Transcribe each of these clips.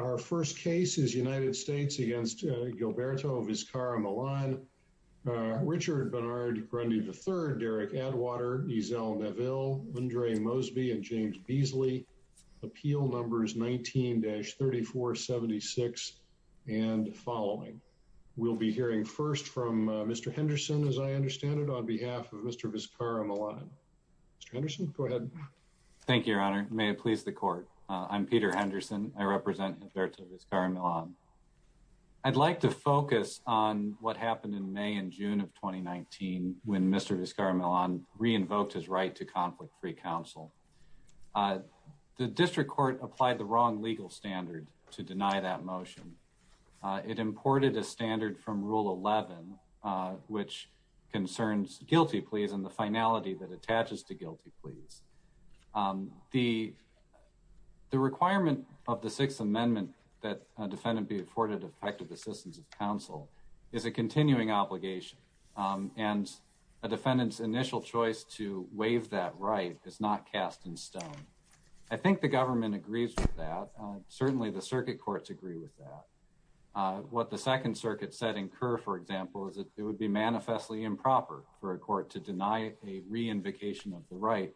Our first case is United States v. Gilberto Vizcarra-Millan. Richard Bernard Grundy III, Derek Atwater, Giselle Neville, Andre Mosby, and James Beasley. Appeal numbers 19-3476 and following. We'll be hearing first from Mr. Henderson, as I understand it, on behalf of Mr. Vizcarra-Millan. Mr. Henderson, go ahead. Thank you, Your Honor. May it please the Court. I'm Peter Henderson. I represent Mr. Vizcarra-Millan. I'd like to focus on what happened in May and June of 2019 when Mr. Vizcarra-Millan re-invoked his right to conflict-free counsel. The district court applied the wrong legal standard to deny that motion. It imported a standard from Rule 11, which concerns guilty pleas and the finality that attaches to guilty pleas. The requirement of the Sixth Amendment that a defendant be afforded effective assistance of counsel is a continuing obligation, and a defendant's initial choice to waive that right is not cast in stone. I think the government agrees with that. Certainly, the circuit courts agree with that. What the Second Circuit said for example is that it would be manifestly improper for a court to deny a re-invocation of the right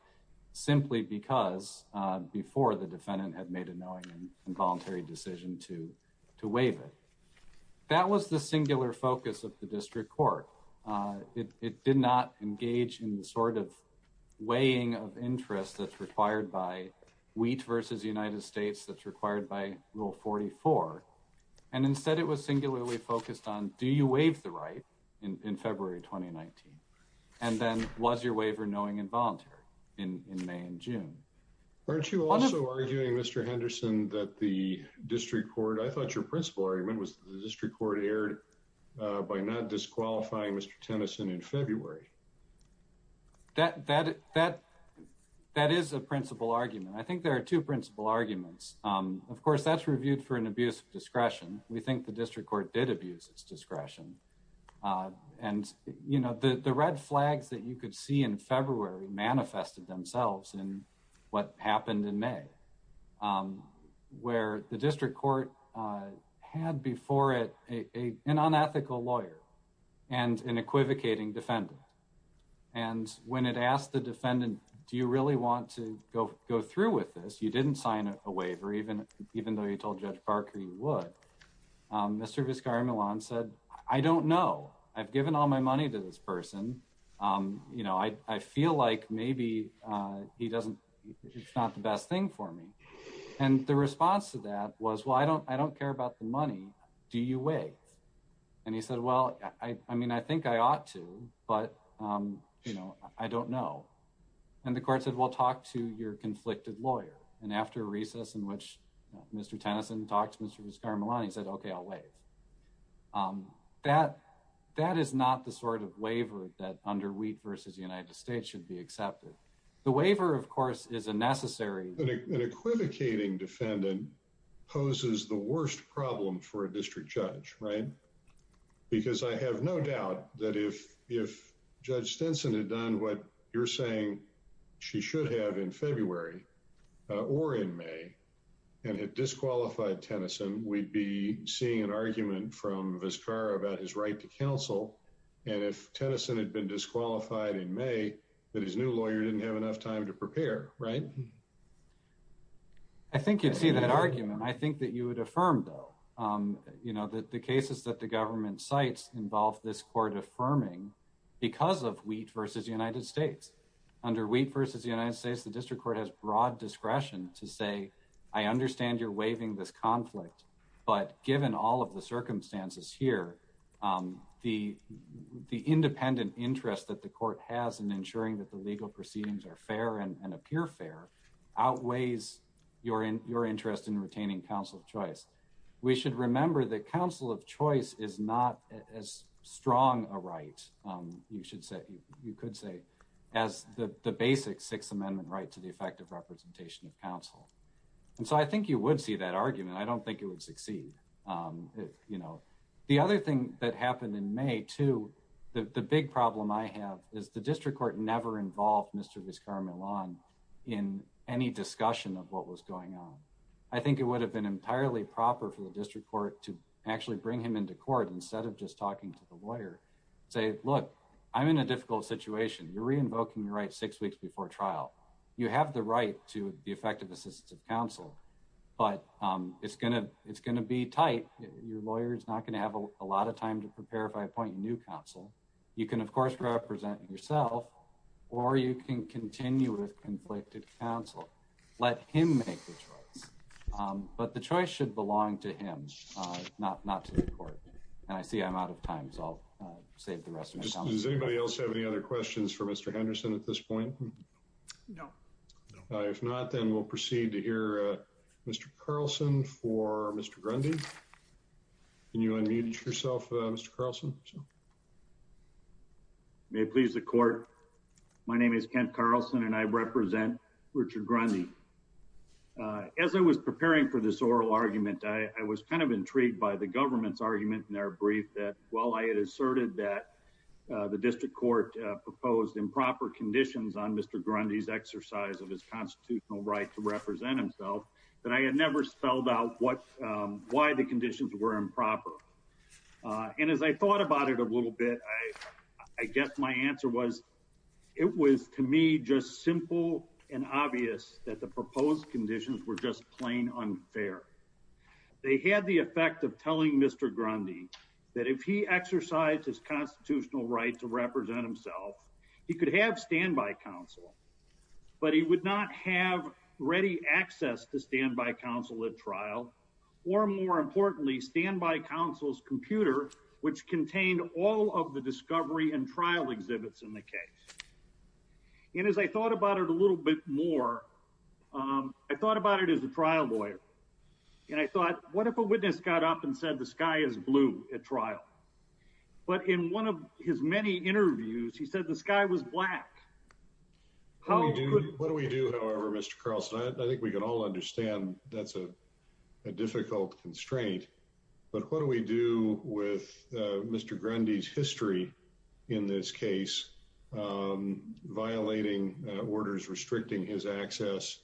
simply because before the defendant had made a knowing and voluntary decision to waive it. That was the singular focus of the district court. It did not engage in the sort of weighing of interest that's required by Wheat v. United States, that's required by Rule 44. Instead, it was singularly focused on do you waive the right in February 2019, and then was your waiver knowing and voluntary in May and June. Aren't you also arguing, Mr. Henderson, that the district court, I thought your principal argument was the district court erred by not disqualifying Mr. Tennyson in February? That is a principal argument. I think there are two principal arguments. Of course, that's reviewed for an abuse of discretion. We think the district court did abuse its discretion. The red flags that you could see in February manifested themselves in what happened in May, where the district court had before it an unethical lawyer and an equivocating defender. When it asked the defendant, do you really want to go through with this, you didn't sign a waiver, even though you told Judge Parker you would. Mr. Vizcarra-Millan said, I don't know. I've given all my money to this person. I feel like maybe he's not the best thing for me. The response to that was, well, I don't care about the money. Do you waive? He said, well, I mean, I think I ought to, but I don't know. The court said, well, talk to your conflicted lawyer. After a recess in which Mr. Tennyson talked to Mr. Vizcarra-Millan, he said, okay, I'll waive. That is not the sort of waiver that under Wheat v. United States should be accepted. The waiver, of course, is a necessary- An equivocating defendant poses the worst problem for a district judge, right? Because I have no doubt that if Judge Stinson had done what you're saying she should have in February or in May and had disqualified Tennyson, we'd be seeing an argument from Vizcarra about his right to counsel. If Tennyson had been disqualified in May, his new lawyer didn't have enough time to prepare, right? I think you'd see that argument. I think that you would affirm, though, that the cases that the government cites involve this court affirming because of Wheat v. United States. Under Wheat v. United States, the district court has broad discretion to say, I understand you're waiving this conflict, but given all of the circumstances here, the independent interest that the court has in ensuring that the legal proceedings are fair and appear fair outweighs your interest in retaining counsel of choice. We should remember that counsel of choice is not as strong a right, you should say, you could say, as the basic Sixth Amendment right to the effective representation of counsel. And so I think you would see that argument. I don't think it would succeed. The other thing that happened in May, too, the big problem I have is the district court never involved Mr. Vizcarra-Millan in any discussion of what was going on. I think it would have been entirely proper for the district court to actually bring him into court instead of just talking to the lawyer, say, look, I'm in a difficult situation. You're re-invoking your rights six weeks before trial. You have the right to the effective assistance of counsel, but it's going to be tight. Your lawyer is not going to have a lot of time to prepare if I appoint new counsel. You can, of course, represent yourself, or you can continue with conflicted counsel. Let him make the choice. But the choice should belong to him, not to the court. And I see I'm out of time, so I'll save the rest of my time. Does anybody else have any other questions for Mr. Henderson at this point? No. If not, then we'll proceed to hear Mr. Carlson for Mr. Grundy. Can you unmute yourself, Mr. Carlson? May it please the court, my name is Kent Carlson, and I represent Richard Grundy. As I was preparing for this oral argument, I was kind of intrigued by the government's argument in their brief that while I had asserted that the district court proposed improper conditions on Mr. Grundy's exercise of his constitutional right to represent himself, that I had never spelled out why the conditions were improper. And as I thought about it a little bit, I guess my answer was, it was to me just simple and obvious that the proposed conditions were just plain unfair. They had the effect of telling Mr. Grundy that if he exercised his constitutional right to represent himself, he could have standby counsel, but he would not have ready access to standby counsel at trial, or more importantly, standby counsel's computer, which contained all of the discovery and trial exhibits in the case. And as I thought about it a little bit more, I thought about it as a trial lawyer, and I thought, what if a witness got up and said the sky is blue at trial? But in one of his many interviews, he said the sky was black. What do we do, however, Mr. Carlson? I think we can all understand that's a difficult constraint, but what do we do with Mr. Grundy's history in this case, violating orders restricting his access?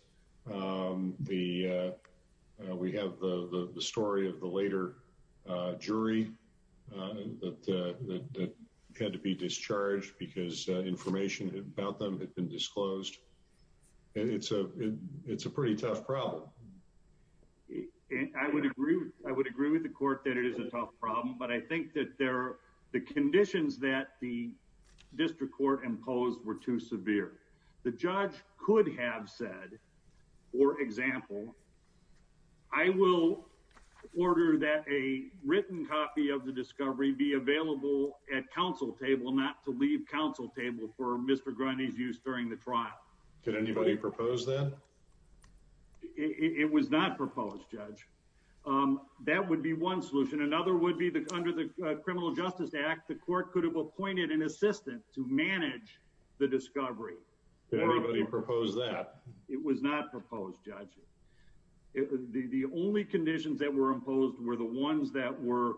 We have the story of the later jury that had to be discharged because information about them had been disclosed. It's a pretty tough problem. I would agree with the court that it is a tough problem, but I think that the conditions that the example, I will order that a written copy of the discovery be available at counsel table, not to leave counsel table for Mr. Grundy's use during the trial. Did anybody propose that? It was not proposed, Judge. That would be one solution. Another would be under the Criminal Justice Act, the court could have appointed an assistant to manage the discovery. Did anybody propose that? It was not proposed, Judge. The only conditions that were imposed were the ones that were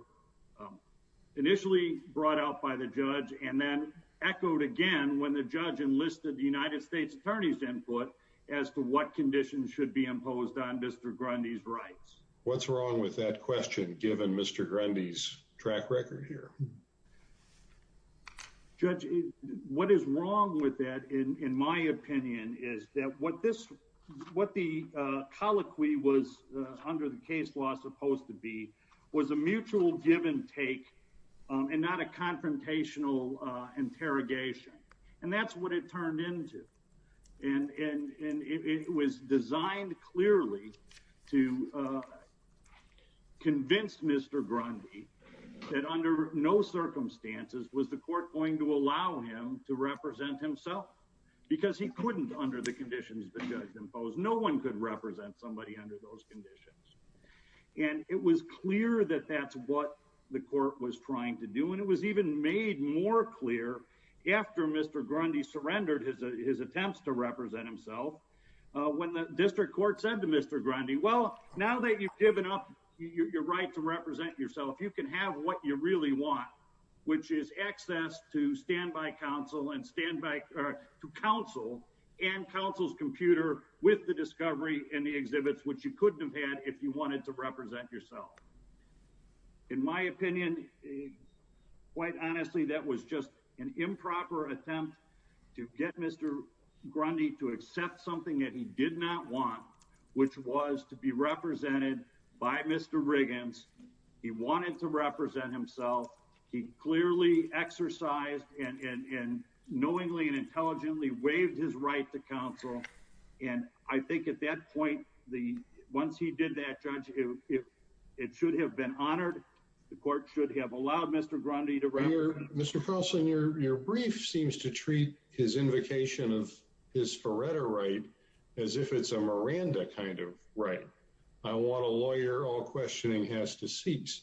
initially brought out by the judge and then echoed again when the judge enlisted the United States Attorney's input as to what conditions should be imposed on Mr. Grundy's rights. What's wrong with that question, given Mr. Grundy's track record here? Judge, what is wrong with that, in my opinion, is that what the colloquy was under the case law supposed to be was a mutual give and take and not a confrontational interrogation. That's what it turned into. It was designed clearly to convince Mr. Grundy that under no circumstances was the court going to allow him to represent himself because he couldn't under the conditions the judge imposed. No one could represent somebody under those conditions. It was clear that that's what the court was trying to do. It was even made more clear after Mr. Grundy surrendered his attempts to represent himself when the district court said to Mr. Grundy, well, now that you've given up your right to represent yourself, you can have what you really want, which is access to standby counsel and counsel and counsel's computer with the discovery and the exhibits, which you couldn't have had if you wanted to represent yourself. In my opinion, quite honestly, that was just an improper attempt to get Mr. Grundy to accept something that he did not want, which was to be represented by Mr. Riggins. He wanted to represent himself. He clearly exercised and knowingly and intelligently waived his right to counsel. And I think at that point, once he did that, judge, it should have been honored. The court should have allowed Mr. Grundy to represent himself. Mr. Carlson, your brief seems to treat his invocation of his Faretta right as if it's a Miranda kind of right. I want a lawyer, all questioning has to cease.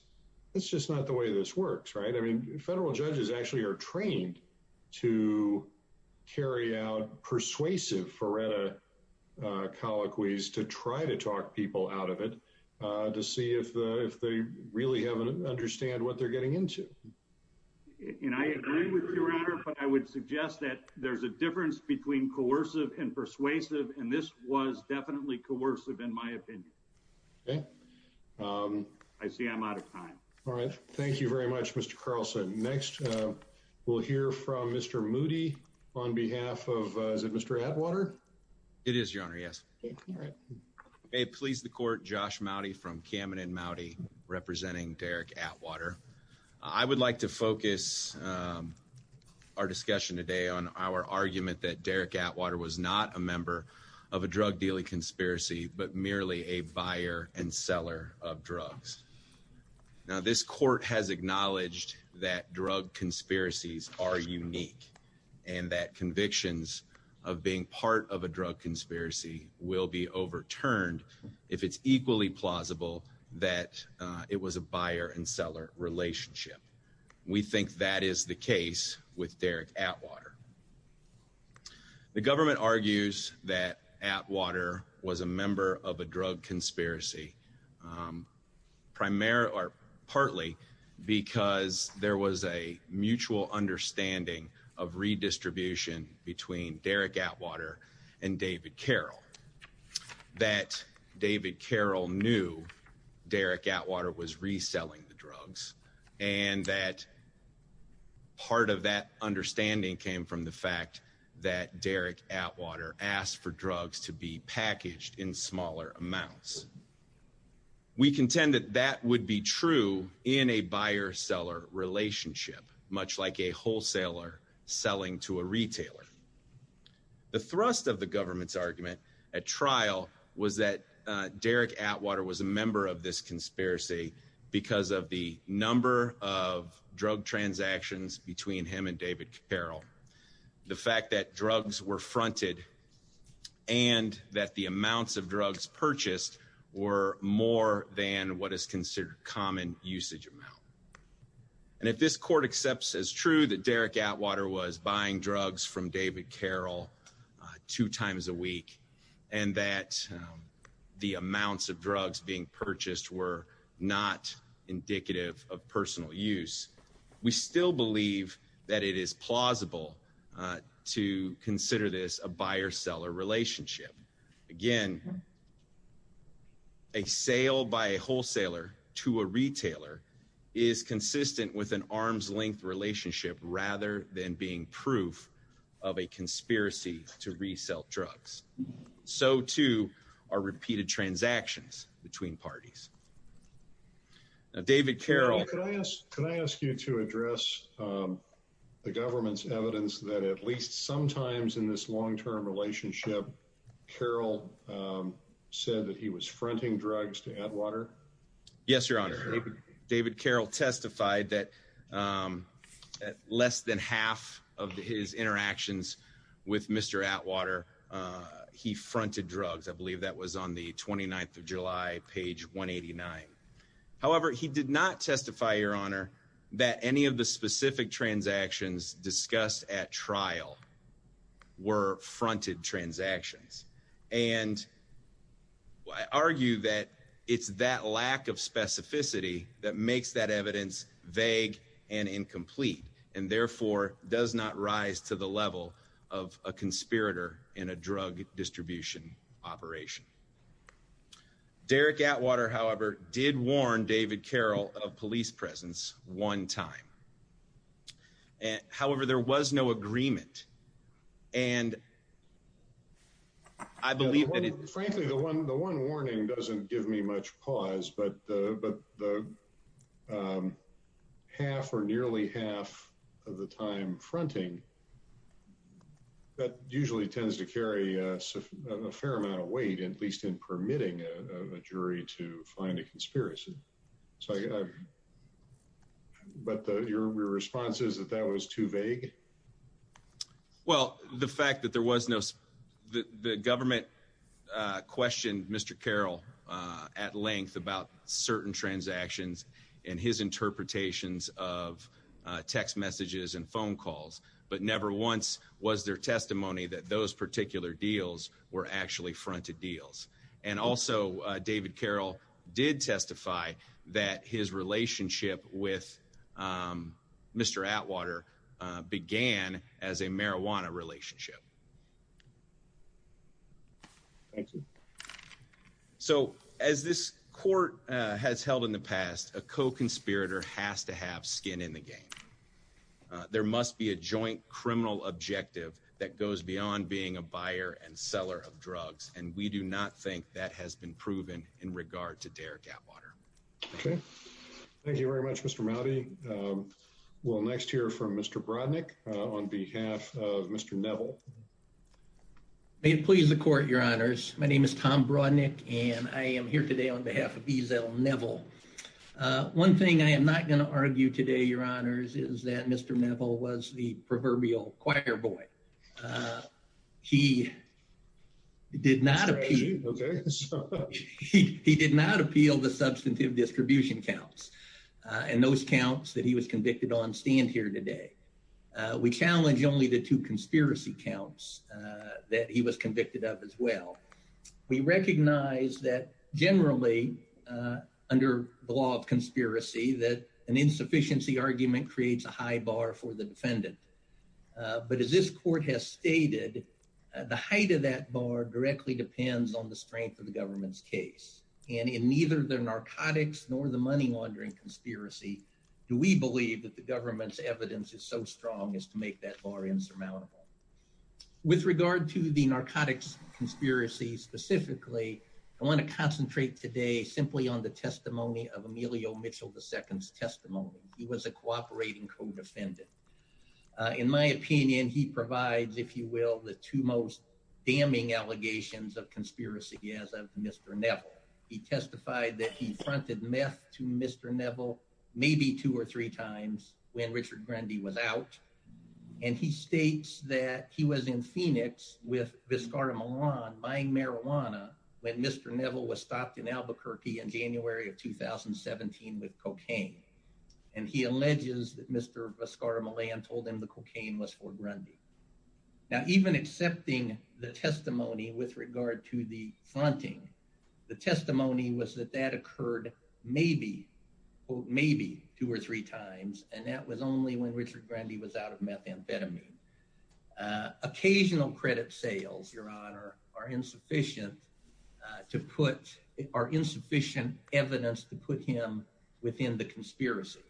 It's just not the way this works, right? I mean, federal judges actually are trained to carry out persuasive Faretta colloquies to try to talk people out of it to see if they really understand what they're getting into. And I agree with your honor, but I would suggest that there's a difference between coercive and persuasive. And this was definitely coercive in my opinion. I see I'm out of time. All right. Thank you very much, Mr. Carlson. Next, we'll hear from Mr. Moody on behalf of Mr. Atwater. It is your honor. Yes. Hey, please. The court, Josh Mowdy from Cameron and Mowdy representing Derek Atwater. I would like to focus our discussion today on our argument that Derek Atwater was not a member of a drug dealing conspiracy, but merely a buyer and seller of drugs. Now, this court has acknowledged that drug conspiracies are unique and that convictions of being part of a drug conspiracy will be overturned if it's equally plausible that it was a buyer and seller relationship. We think that is the case with Derek Atwater. The government argues that Atwater was a member of a drug conspiracy primarily or partly because there was a mutual understanding of redistribution between Derek Atwater and David Carroll, that David Carroll knew Derek Atwater was reselling the drugs and that part of that understanding came from the fact that Derek Atwater asked for drugs to be packaged in smaller amounts. We contend that that would be true in a buyer seller relationship, much like a wholesaler selling to a retailer. The thrust of the government's argument at trial was that Derek Atwater was a member of this conspiracy because of the number of drug transactions between him and David Carroll. The fact that drugs were fronted and that the amounts of drugs purchased were more than what is considered common usage amount. And if this court accepts as true that Derek Atwater was buying drugs from David Carroll two times a week and that the amounts of drugs being purchased were not indicative of personal use, we still believe that it is plausible to consider this a buyer seller relationship. Again, a sale by a wholesaler to a retailer is consistent with an arm's length relationship rather than being proof of a conspiracy to parties. David Carroll. Can I ask you to address the government's evidence that at least sometimes in this long-term relationship, Carroll said that he was fronting drugs to Atwater? Yes, your honor. David Carroll testified that at less than half of his interactions with Mr. Atwater, he fronted drugs. I believe that was on the 29th of July, page 189. However, he did not testify, your honor, that any of the specific transactions discussed at trial were fronted transactions. And I argue that it's that lack of specificity that makes that evidence vague and incomplete and therefore does not rise to the level of a conspirator in a drug distribution operation. Derek Atwater, however, did warn David Carroll of police presence one time. However, there was no agreement. And I believe that it... Frankly, the one warning doesn't give me much pause, but the half or nearly half of the time fronting, that usually tends to carry a fair amount of weight, at least in permitting a jury to find a conspiracy. But your response is that that was too vague? Well, the fact that there was no... The government questioned Mr. Carroll at length about certain transactions and his interpretations of text messages and phone calls, but never once was there testimony that those particular deals were actually fronted deals. And also, David Carroll did testify that his relationship with Mr. Atwater began as a marijuana relationship. Thank you. So as this court has held in the past, a co-conspirator has to have skin in the game. There must be a joint criminal objective that goes beyond being a buyer and seller of drugs, and we do not think that has been proven in regard to Derek Atwater. Okay. Thank you very much, Mr. Mowdy. We'll next hear from Mr. Brodnick on behalf of Mr. Neville. May it please the court, your honors. My name is Tom Brodnick, and I am here today on behalf of Ezell Neville. One thing I am not going to argue today, your honors, is that Mr. Neville was the proverbial choir boy. He did not appeal the substantive distribution counts, and those counts that he was convicted on stand here today. We challenge only the two conspiracy counts that he was convicted of as well. We recognize that generally, under the law of conspiracy, that an insufficiency argument creates a high bar for the defendant. But as this court has stated, the height of that bar directly depends on the strength of the government's case. And in neither the narcotics nor the money laundering conspiracy do we believe that the With regard to the narcotics conspiracy specifically, I want to concentrate today simply on the testimony of Emilio Mitchell II's testimony. He was a cooperating co-defendant. In my opinion, he provides, if you will, the two most damning allegations of conspiracy as of Mr. Neville. He testified that he planted meth to Mr. Neville maybe two or three times when Richard Grundy was out. And he states that he was in Phoenix with Viscar Milan buying marijuana when Mr. Neville was stopped in Albuquerque in January of 2017 with cocaine. And he alleges that Mr. Viscar Milan told him the cocaine was for Grundy. Now, even accepting the testimony with regard to the planting, the testimony was that that occurred maybe, quote, maybe two or three times. And that was only when Richard Grundy was out of methamphetamine. Occasional credit sales, Your Honor, are insufficient to put, are insufficient evidence to put him within the conspiracy.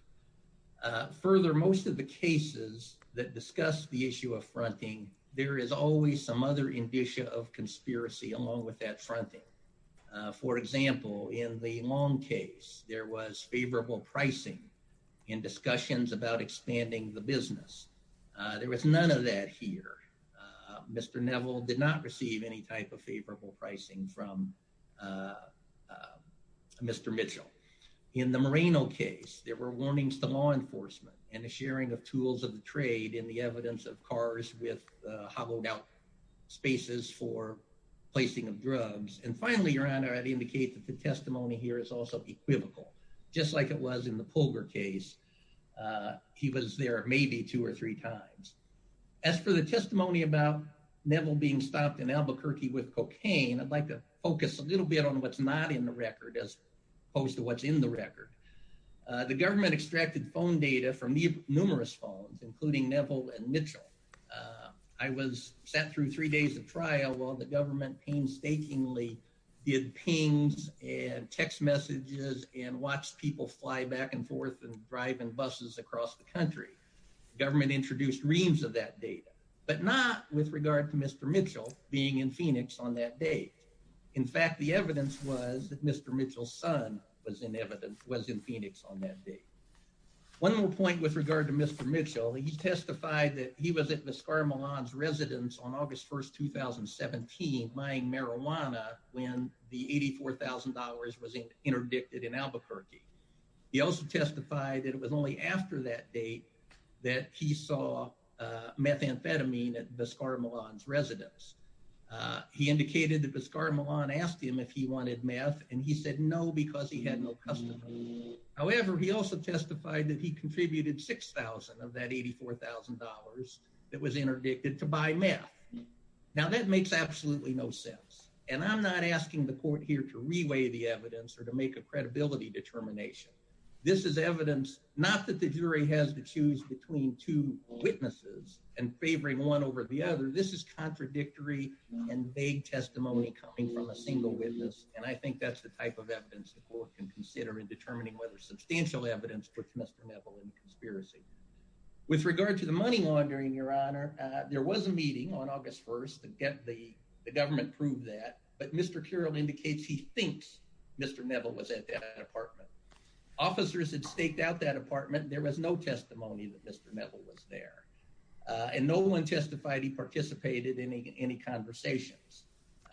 Further, most of the cases that discuss the issue of fronting, there is always some other indicia of conspiracy along with that fronting. For example, in the long case, there was favorable pricing in discussions about expanding the business. There was none of that here. Mr. Neville did not receive any type of favorable pricing from Mr. Mitchell. In the Moreno case, there were warnings to law enforcement and the sharing of tools of the trade in the evidence of cars with hollowed out spaces for placing of drugs. And finally, Your Honor, I'd like to say that the testimony here is also equivocal. Just like it was in the Pulver case, he was there maybe two or three times. As for the testimony about Neville being stopped in Albuquerque with cocaine, I'd like to focus a little bit on what's not in the record as opposed to what's in the record. The government extracted phone data from numerous phones, including Neville and Mitchell. I was sent through three days of trial while the government painstakingly did pings and text messages and watched people fly back and forth and drive in buses across the country. Government introduced reams of that data, but not with regard to Mr. Mitchell being in Phoenix on that day. In fact, the evidence was that Mr. Mitchell's son was in Phoenix on that day. One more point with regard to Mr. Mitchell, he testified that he was at Viscar Milan's residence on August 1st, 2017, buying marijuana when the $84,000 was interdicted in Albuquerque. He also testified that it was only after that date that he saw methamphetamine at Viscar Milan's residence. He indicated that Viscar Milan asked him if he wanted meth, and he said no because he had no customers. However, he also testified that he contributed $6,000 of that $84,000 that was interdicted to buy meth. Now, that makes absolutely no sense, and I'm not asking the court here to reweigh the evidence or to make a credibility determination. This is evidence not that the jury has to choose between two witnesses and favoring one over the other. This is contradictory and vague testimony coming from a single witness, and I think that's the type of evidence the court can consider in determining whether substantial evidence puts Mr. Neville in conspiracy. With regard to the money laundering, Your Honor, there was a meeting on August 1st, and the government proved that, but Mr. Carroll indicates he thinks Mr. Neville was at that apartment. Officers had staked out that apartment. There was no testimony that Mr. Neville was there, and no one testified he participated in any conversations,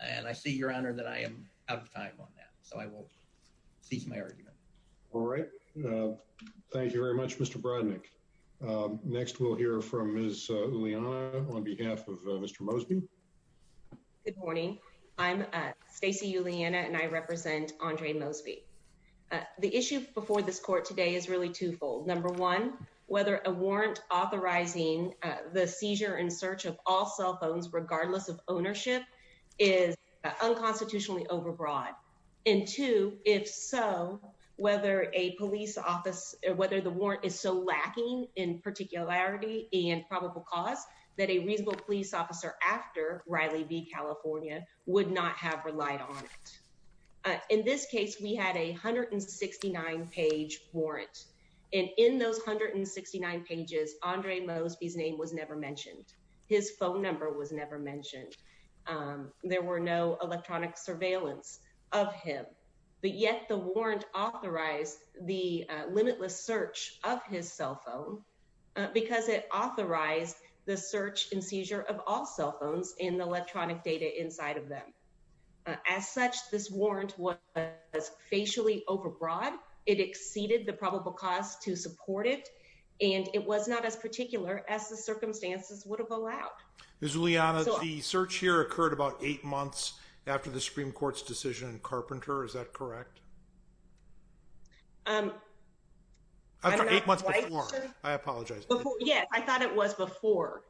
and I see, Your Honor, that I am out of time on that, so I won't cease my argument. All right. Thank you very much, Mr. Brodnick. Next, we'll hear from Ms. Uliana on behalf of Mr. Mosby. Good morning. I'm Stacey Uliana, and I represent Andre Mosby. The issue before this court today is really twofold. Number one, whether a warrant authorizing the seizure and search of all cell phones, regardless of ownership, is unconstitutionally overbroad, and two, if so, whether the warrant is so lacking in particularity and probable cause that a legal police officer after Riley v. California would not have relied on it. In this case, we had a 169-page His phone number was never mentioned. There were no electronic surveillance of him, but, yes, the warrant authorized the limitless search of his cell phone because it authorized the search and seizure of all cell phones and the electronic data inside of them. As such, this warrant was facially overbroad. It exceeded the probable cause to support it, and it was not as particular as circumstances would have allowed. Ms. Uliana, the search here occurred about eight months after the Supreme Court's decision in Carpenter. Is that correct? I don't know. Eight months before. I apologize. Yeah, I thought it was before,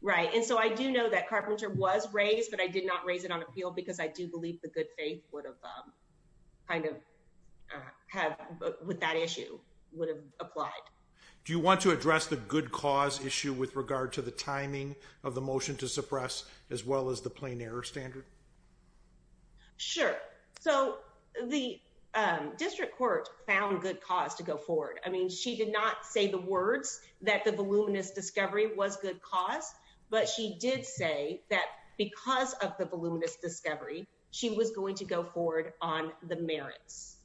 right? And so, I do know that Carpenter was raised, but I did not raise it on appeal because I do believe the good faith would have kind of had with that issue would have applied. Do you want to address the good cause issue with regard to the timing of the motion to suppress as well as the plain error standard? Sure. So, the district court found good cause to go forward. I mean, she did not say the words that the voluminous discovery was good cause, but she did say that because of the voluminous discovery, she was going to go forward on the merits.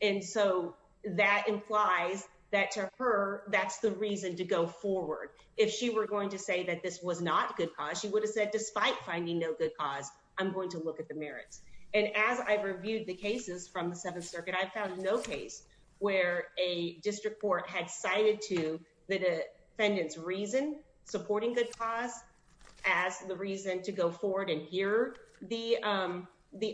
And so, that implies that to her, that's the reason to go forward. If she were going to say that this was not good cause, she would have said, despite finding no good cause, I'm going to look at the merits. And as I reviewed the cases from the Seventh Circuit, I found no case where a district court had cited to the defendant's reason supporting good cause as the reason to go forward and hear the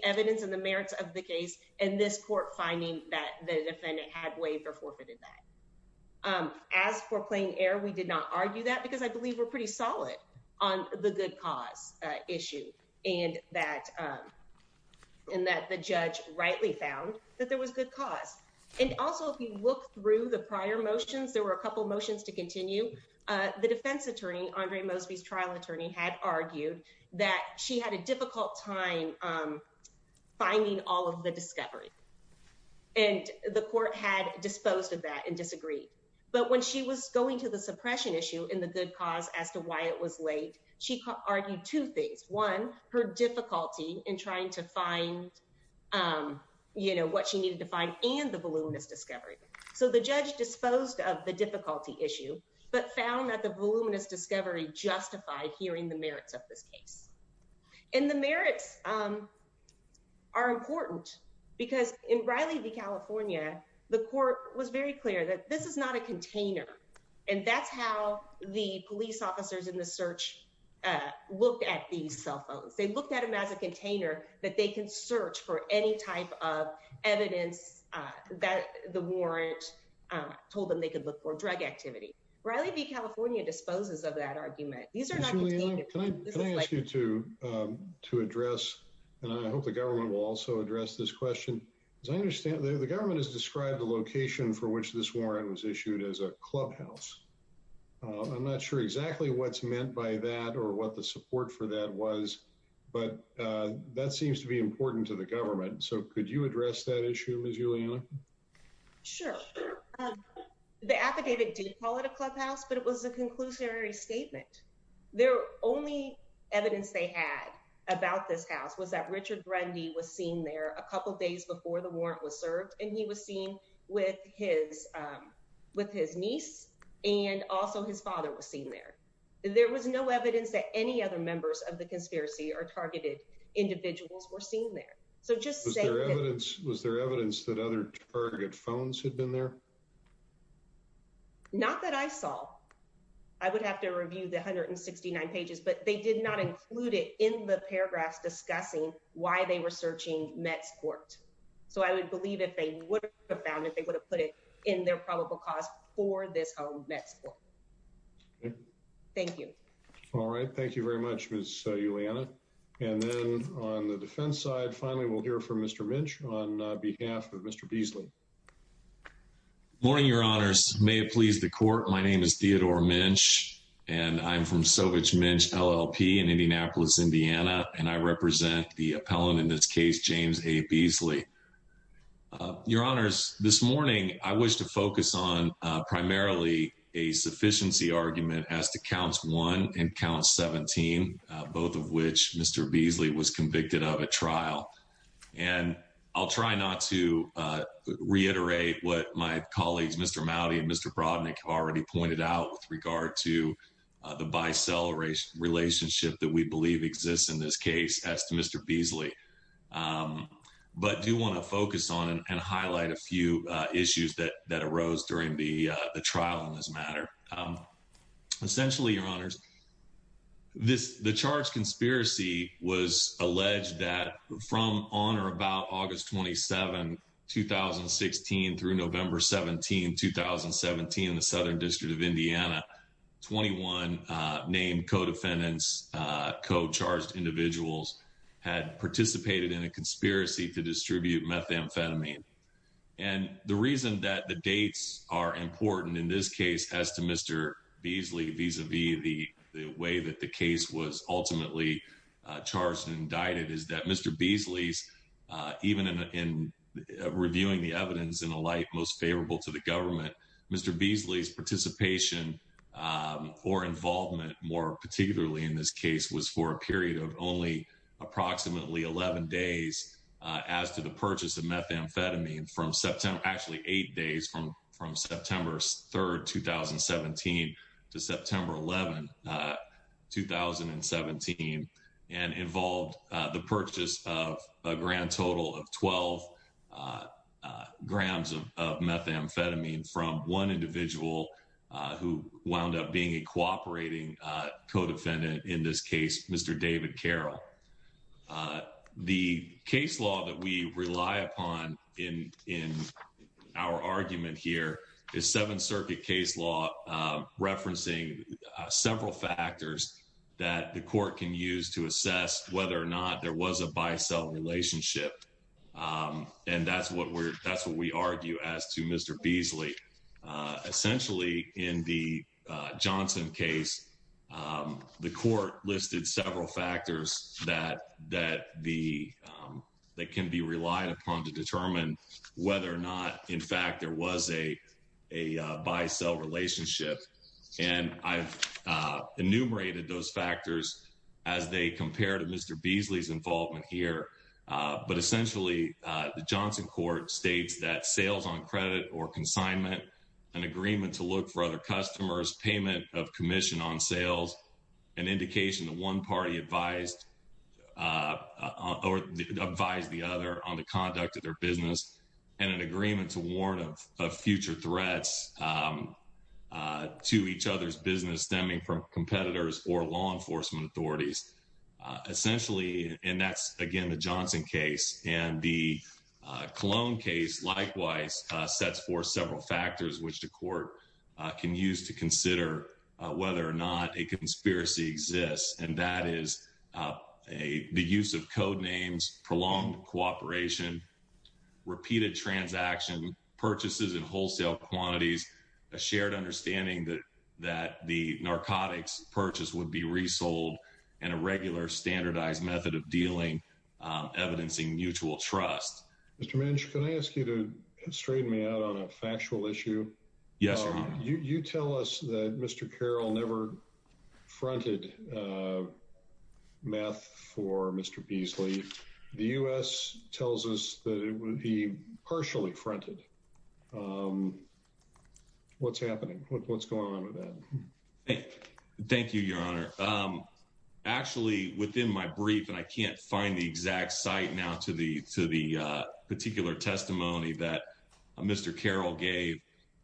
evidence and the merits of the case and this court finding that the defendant had waived or forfeited that. As for plain error, we did not argue that because I believe we're pretty solid on the good cause issue and that the judge rightly found that there was good cause. And also, if you look through the prior motions, there were a couple of motions to continue. The defense attorney, Andre Mosley's trial attorney, had argued that she had a difficult time finding all of the discoveries. And the court had disposed of that and disagreed. But when she was going to the suppression issue in the good cause as to why it was waived, she argued two things. One, her difficulty in trying to find, you know, what she needed to find and the voluminous discovery. So, the judge disposed of the difficulty issue, but found that the voluminous discovery justified hearing the merits of this case. And the merits are important because in Riley v. California, the court was very clear that this is not a container and that's how the police officers in the search looked at these cell phones. They looked at them as a container that they can search for any type of evidence that the warrant told them they could look for drug activity. Riley v. California disposes of that argument. Can I ask you to address, I hope the government will also address this question, because I understand that the government has described the location for which this warrant was issued as a clubhouse. I'm not sure exactly what's meant by that or what the support for that was, but that seems to be important to the government. So, could you address that issue, Ms. Williams? I think they did call it a clubhouse, but it was a conclusionary statement. Their only evidence they had about this house was that Richard Brandy was seen there a couple days before the warrant was served, and he was seen with his niece and also his father was seen there. There was no evidence that any other members of the conspiracy or targeted individuals were seen there. So, just to say- Was there evidence that other target phones had been there? Not that I saw. I would have to review the 169 pages, but they did not include it in the paragraph discussing why they were searching Metcourt. So, I would believe if they would have found it, they would have put it in their probable cause for this home Metcourt. Thank you. All right. Thank you very much, Ms. Ullianna. And then on the defense side, finally, we'll hear from Mr. Minch on behalf of Mr. Beasley. Good morning, Your Honors. May it please the Court, my name is Theodore Minch, and I'm from Sovich Minch LLP in Indianapolis, Indiana, and I represent the appellant in this case, James A. Beasley. Your Honors, this morning, I wish to focus on primarily a sufficiency argument as to Counts 1 and Count 17, both of which Mr. Beasley was convicted of a trial. And I'll try not to reiterate what my colleagues, Mr. Moudy and Mr. Brodnick, have already pointed out with regard to the bisexual relationship that we believe exists in this case as to Mr. Beasley. But I do want to focus on and highlight a few issues that arose during the trial in this matter. Essentially, Your Honors, the charged conspiracy was alleged that from on or about August 27, 2016 through November 17, 2017, in the Southern District of Indiana, 21 named co-defendants, co-charged individuals had participated in a conspiracy to distribute methamphetamine. And the reason that the dates are important in this case as to Mr. Beasley vis-a-vis the way that the case was ultimately charged and indicted is that Mr. Beasley's, even in reviewing the evidence in a light most favorable to the government, Mr. Beasley's participation or involvement more particularly in this case was for a period of only approximately 11 days as to the purchase of methamphetamine from September, actually eight days from September 3, 2017 to September 11, 2017, and involved the purchase of a grand total of 12 grams of methamphetamine from one individual who wound up being a cooperating co-defendant, in this case, Mr. David Carroll. The case law that we rely upon in our argument here is Seventh Circuit case law referencing several factors that the court can use to assess whether or not there was a buy-sell relationship. And that's what we argue as to Mr. Beasley. Essentially, in the Johnson case, the court listed several factors that can be relied upon to determine whether or not, in fact, there was a buy-sell relationship. And I've enumerated those factors as they compare to Mr. Beasley's involvement here. But essentially, the Johnson court states that sales on credit or consignment, an agreement to look for other customers, payment of commission on sales, an indication that one party advised the other on the conduct of their business, and an agreement to warn of future threats to each other's business stemming from competitors or law enforcement authorities. Essentially, and that's, again, the Johnson case and the Cologne case, likewise, sets forth several factors which the court can use to consider whether or not a conspiracy exists. And that is the use of code names, prolonged cooperation, repeated transactions, purchases in wholesale quantities, a shared understanding that the narcotics purchase would be resold, and a regular standardized method of dealing, evidencing mutual trust. Mr. Manchin, can I ask you to straighten me out on a factual issue? Yes, Your Honor. You tell us that Mr. Carroll never fronted meth for Mr. Beasley. The U.S. tells us that it would be partially fronted. What's happening? What's going on with that? Okay. Thank you, Your Honor. Actually, within my brief, and I can't find the exact site now to the particular testimony that Mr. Carroll gave,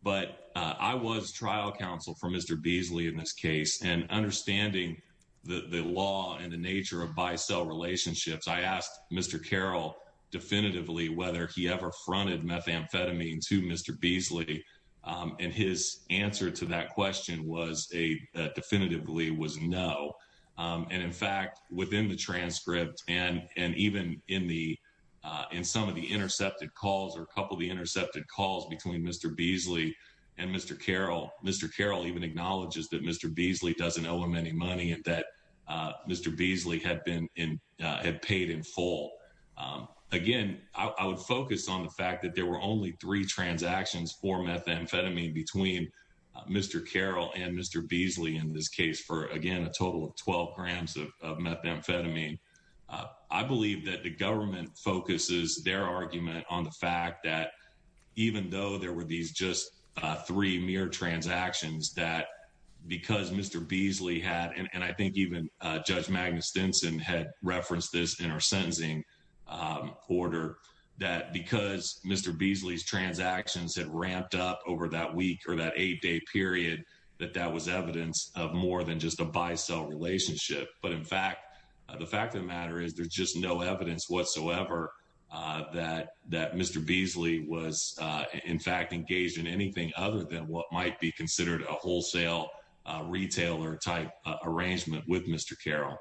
but I was trial counsel for Mr. Beasley in this case, and understanding the law and the nature of buy-sell relationships, I asked Mr. Carroll definitively whether he ever fronted methamphetamine to Mr. Beasley, and his answer to that question definitively was no. And in fact, within the transcript, and even in some of the intercepted calls or a couple of the intercepted calls between Mr. Beasley and Mr. Carroll, Mr. Carroll even acknowledges that Mr. Beasley doesn't owe him any money, and that Mr. Beasley had paid in full. Again, I would focus on the fact that there were only three transactions for methamphetamine between Mr. Carroll and Mr. Beasley in this case for, again, a total of 12 grams of methamphetamine. I believe that the government focuses their argument on the fact that even though there were these just three mere transactions, that because Mr. Beasley had, and I think even Judge Magnus Denson had referenced this in our sentencing order, that because Mr. Beasley's transactions had ramped up over that week or that eight-day period, that that was evidence of more than just a buy-sell relationship. But in fact, the fact of the matter is, there's just no evidence whatsoever that Mr. Beasley was, in fact, engaged in anything other than what might be considered a wholesale retailer-type arrangement with Mr. Carroll.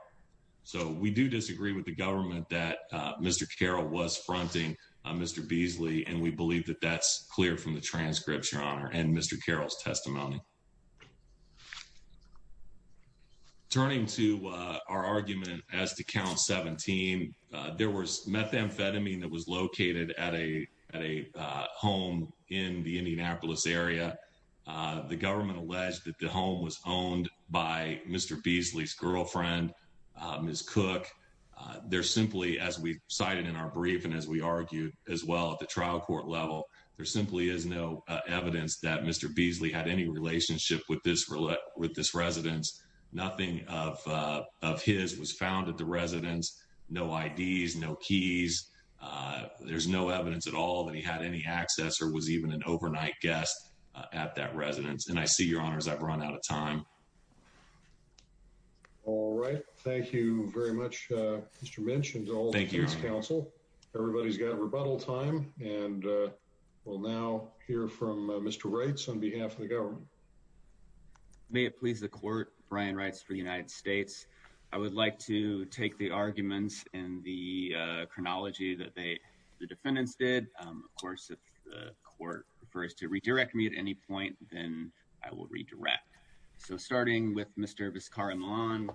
So we do disagree with the government that Mr. Carroll was fronting Mr. Beasley, and we believe that that's clear from the transcript, Your Honor, and Mr. Carroll's testimony. Turning to our argument as to Count 17, there was methamphetamine that was located at a home in the Indianapolis area. The government alleged that the home was owned by Mr. Beasley's girlfriend, Ms. Cook. There's simply, as we cited in our brief and as we argued as well at the trial court level, there simply is no evidence that Mr. Beasley had any relationship with this residence. Nothing of his was found at the residence, no IDs, no keys. There's no evidence at all that he had any access or was even an agent at any time. So, Your Honor, I've run out of time. All right. Thank you very much, Mr. Minch, and to all the defense counsel. Everybody's got rebuttal time, and we'll now hear from Mr. Reitz on behalf of the government. May it please the Court, Brian Reitz for the United States. I would like to take the arguments and the chronology that the defendants did. Of course, if the Court prefers to redirect me at any point, I will redirect. So, starting with Mr. Vizcarra-Millan,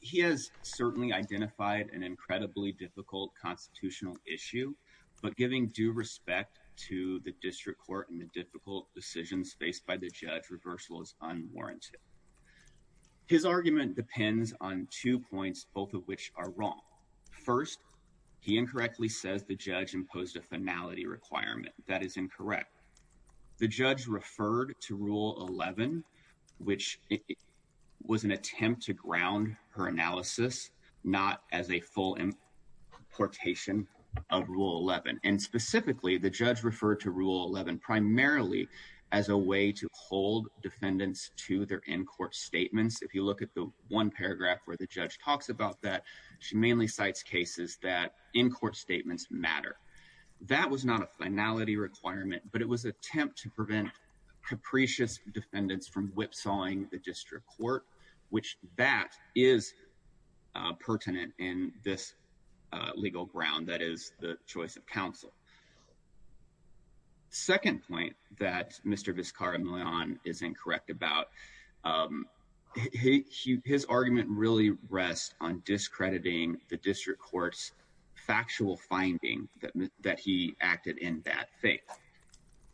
he has certainly identified an incredibly difficult constitutional issue, but giving due respect to the district court and the difficult decisions faced by the judge, reversal is unwarranted. His argument depends on two points, both of which are wrong. First, he incorrectly says the judge imposed a finality requirement. That is incorrect. The judge referred to Rule 11, which was an attempt to ground her analysis, not as a full importation of Rule 11. And specifically, the judge referred to Rule 11 primarily as a way to hold defendants to their in-court statements. If you look at the one paragraph where the judge talks about that, she mainly cites cases that in-court statements matter. That was not a finality requirement, but it was an attempt to prevent capricious defendants from whipsawing the district court, which that is pertinent in this legal ground that is the choice of counsel. Second point that Mr. Vizcarra-Millan is incorrect about, his argument really rests on discrediting the district court's factual finding that he acted in bad faith.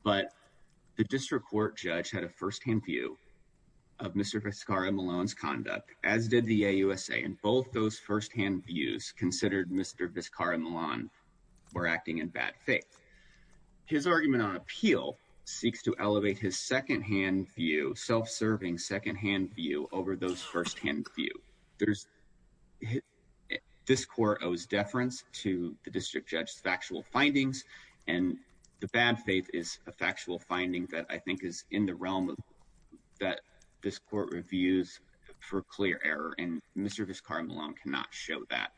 But the district court judge had a firsthand view of Mr. Vizcarra-Millan's conduct, as did the AUSA, and both those firsthand views considered Mr. Vizcarra-Millan were acting in bad faith. His argument on appeal seeks to elevate his secondhand view, self-serving secondhand view over those firsthand views. This court owes deference to the district judge's factual findings, and the bad faith is a factual finding that I think is in the realm that this court reviews for clear error, and Mr. Vizcarra-Millan cannot show that.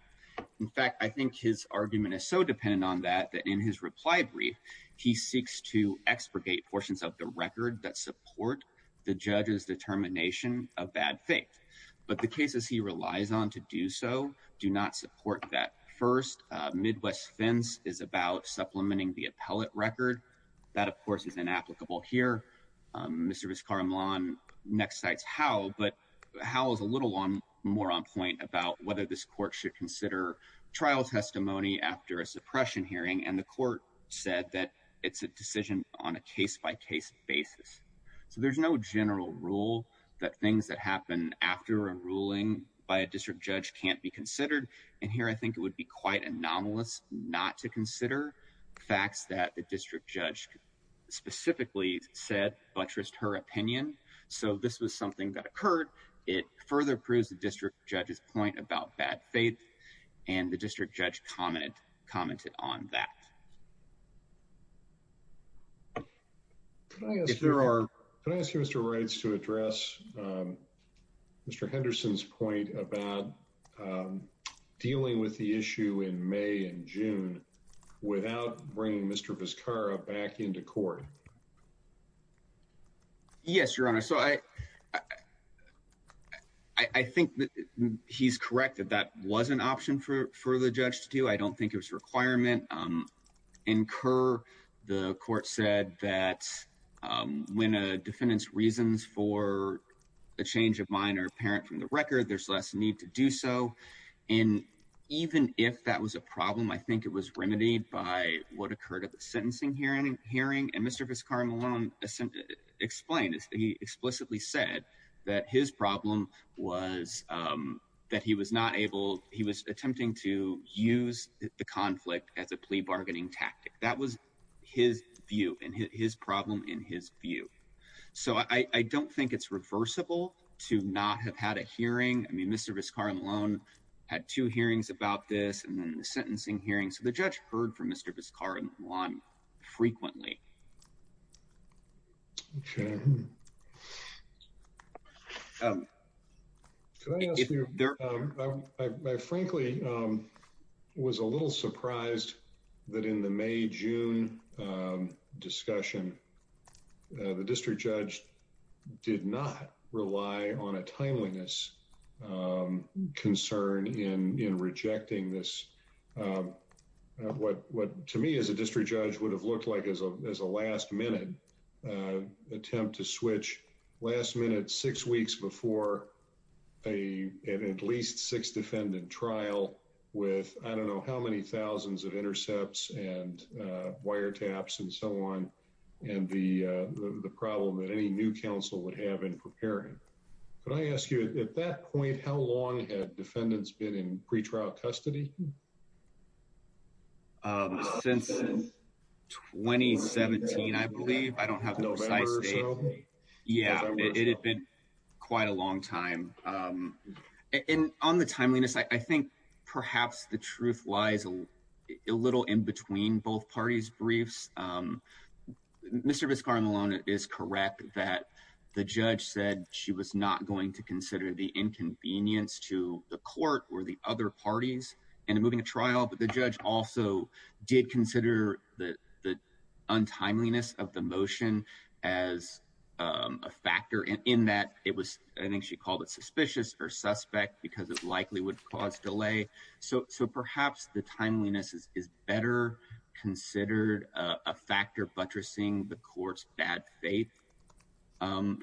In fact, I think his argument is so dependent on that that in his reply brief, he seeks to expurgate portions of the record that support the judge's determination of bad faith. But the cases he relies on to do so do not support that. First, Midwest Spence is about supplementing the appellate record. That of course is inapplicable here. Mr. Vizcarra-Millan next cites Howe, but Howe is a little more on point about whether this court should consider trial testimony after a suppression hearing, and the court said that it's a decision on a case-by-case basis. So there's no general rule that things that happen after a ruling by a district judge can't be considered, and here I think it would be quite anomalous not to consider facts that the district judge specifically said buttressed her opinion. So this was something that occurred. It further proves the district judge's point about bad faith, and the district judge commented on that. Can I ask Mr. Reitz to address Mr. Henderson's point about dealing with the issue in May and June without bringing Mr. Vizcarra back into court? Yes, Your Honor. So I think that he's correct that that was an option for the judge to do. I don't think it was a requirement. In Kerr, the court said that when a defendant's reasons for a change of mind are apparent from the record, there's less need to do so, and even if that was a problem, I think it was remedied by what occurred at the sentencing hearing, and Mr. Vizcarra-Millan explained it. He explicitly said that his problem was that he was attempting to use the conflict as a plea bargaining tactic. That was his view and his problem in his view. So I don't think it's reversible to not have had a hearing. I mean, Mr. Vizcarra-Millan had two hearings about this, and then the sentencing hearing, so the judge heard from Mr. Vizcarra-Millan frequently. Okay. Can I ask you, I frankly was a little surprised that in the May-June discussion, the district judge did not rely on a timeliness concern in rejecting this. What to me as a district judge would have looked like as a last-minute attempt to switch last-minute six weeks before an at least six-defendant trial with I don't know how many thousands of intercepts and wiretaps and so on, and the problem that any new counsel would have in preparing. Can I ask you, at that point, how long had defendants been in pretrial custody? Since 2017, I believe. I don't have the exact date. Yeah, it had been quite a long time. And on the timeliness, I think perhaps the truth lies a little in between both parties' briefs. Mr. Vizcarra-Millan is correct that the judge said she was not going to consider the inconvenience to the court or the other parties in moving a trial, but the judge also did consider the untimeliness of the motion as a factor in that it was, I think she called it suspicious or suspect because it likely would cause delay. So perhaps the timeliness is better considered a factor buttressing the court's bad faith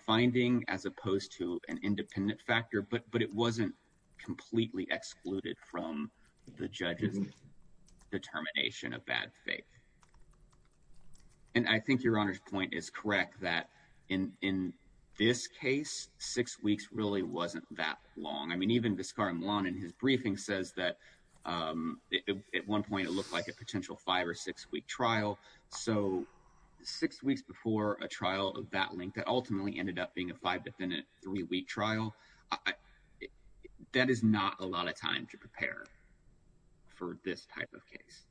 finding as opposed to an independent factor, but it wasn't completely excluded from the judge's determination of bad faith. And I think Your Honor's point is correct that in this case, six weeks really wasn't that long. I mean, even Vizcarra-Millan in his briefing says that at one point it looked like a potential five- or six-week trial. So six weeks before a trial of that length that ultimately ended up being a five- to three-week trial, that is not a lot of time to prepare for this type of case.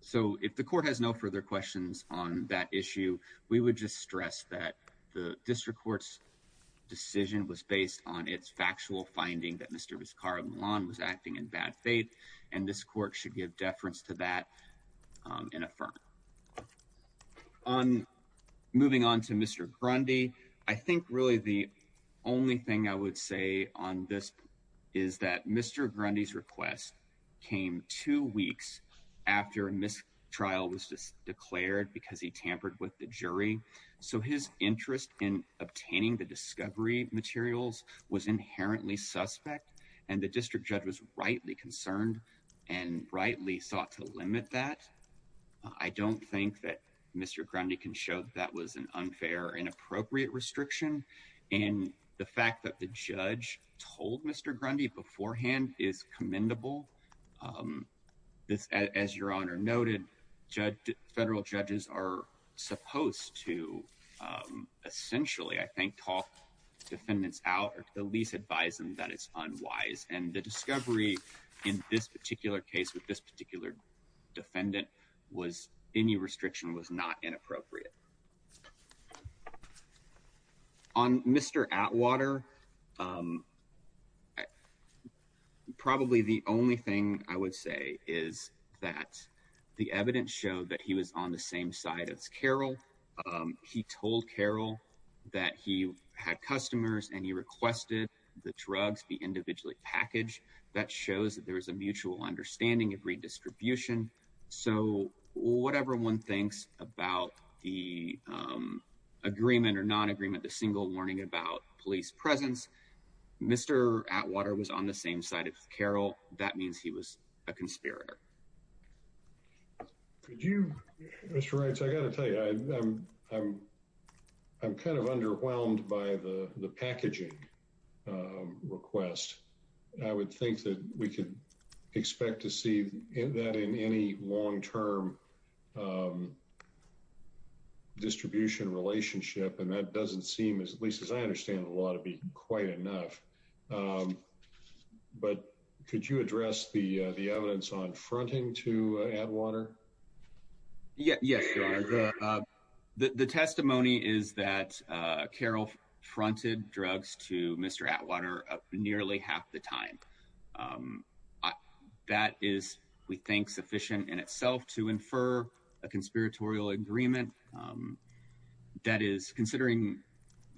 So if the court has no further questions on that issue, we would just stress that the district court's decision was based on its factual finding that Mr. Vizcarra-Millan was acting in bad faith, and this court should give deference to that in a firm. On moving on to Mr. Grundy, I think really the only thing I would say on this is that Mr. Grundy's request came two weeks after a mistrial was declared because he tampered with the jury. So his interest in obtaining the discovery materials was inherently suspect, and the district judge was rightly concerned and rightly sought to limit that. I don't think that Mr. Grundy can show that that was an unfair or inappropriate restriction, and the fact that the judge told Mr. Grundy beforehand is commendable. As Your Honor noted, federal judges are supposed to essentially, I think, talk defendants out if the lease advised them that it's unwise, and the discovery in this particular case with this particular defendant was any restriction was not inappropriate. On Mr. Atwater, probably the only thing I would say is that the evidence showed that he was on the same side as Carroll. He told Carroll that he had customers and he requested the drugs be individually packaged. That shows that there's a mutual understanding of redistribution. So whatever one thinks about the agreement or non-agreement, the single warning about police presence, Mr. Atwater was on the same side as Carroll. That means he was a conspirator. Could you, Mr. Reitz, I gotta tell you, I'm kind of underwhelmed by the packaging request. I would think that we could expect to see that in any long-term distribution relationship, and that doesn't seem as, at least as I understand the law, to be quite enough. But could you address the evidence on fronting to Atwater? Yeah, sure. The testimony is that Carroll fronted drugs to Mr. Atwater nearly half the time. That is, we think, sufficient in itself to infer a conspiratorial agreement. That is, considering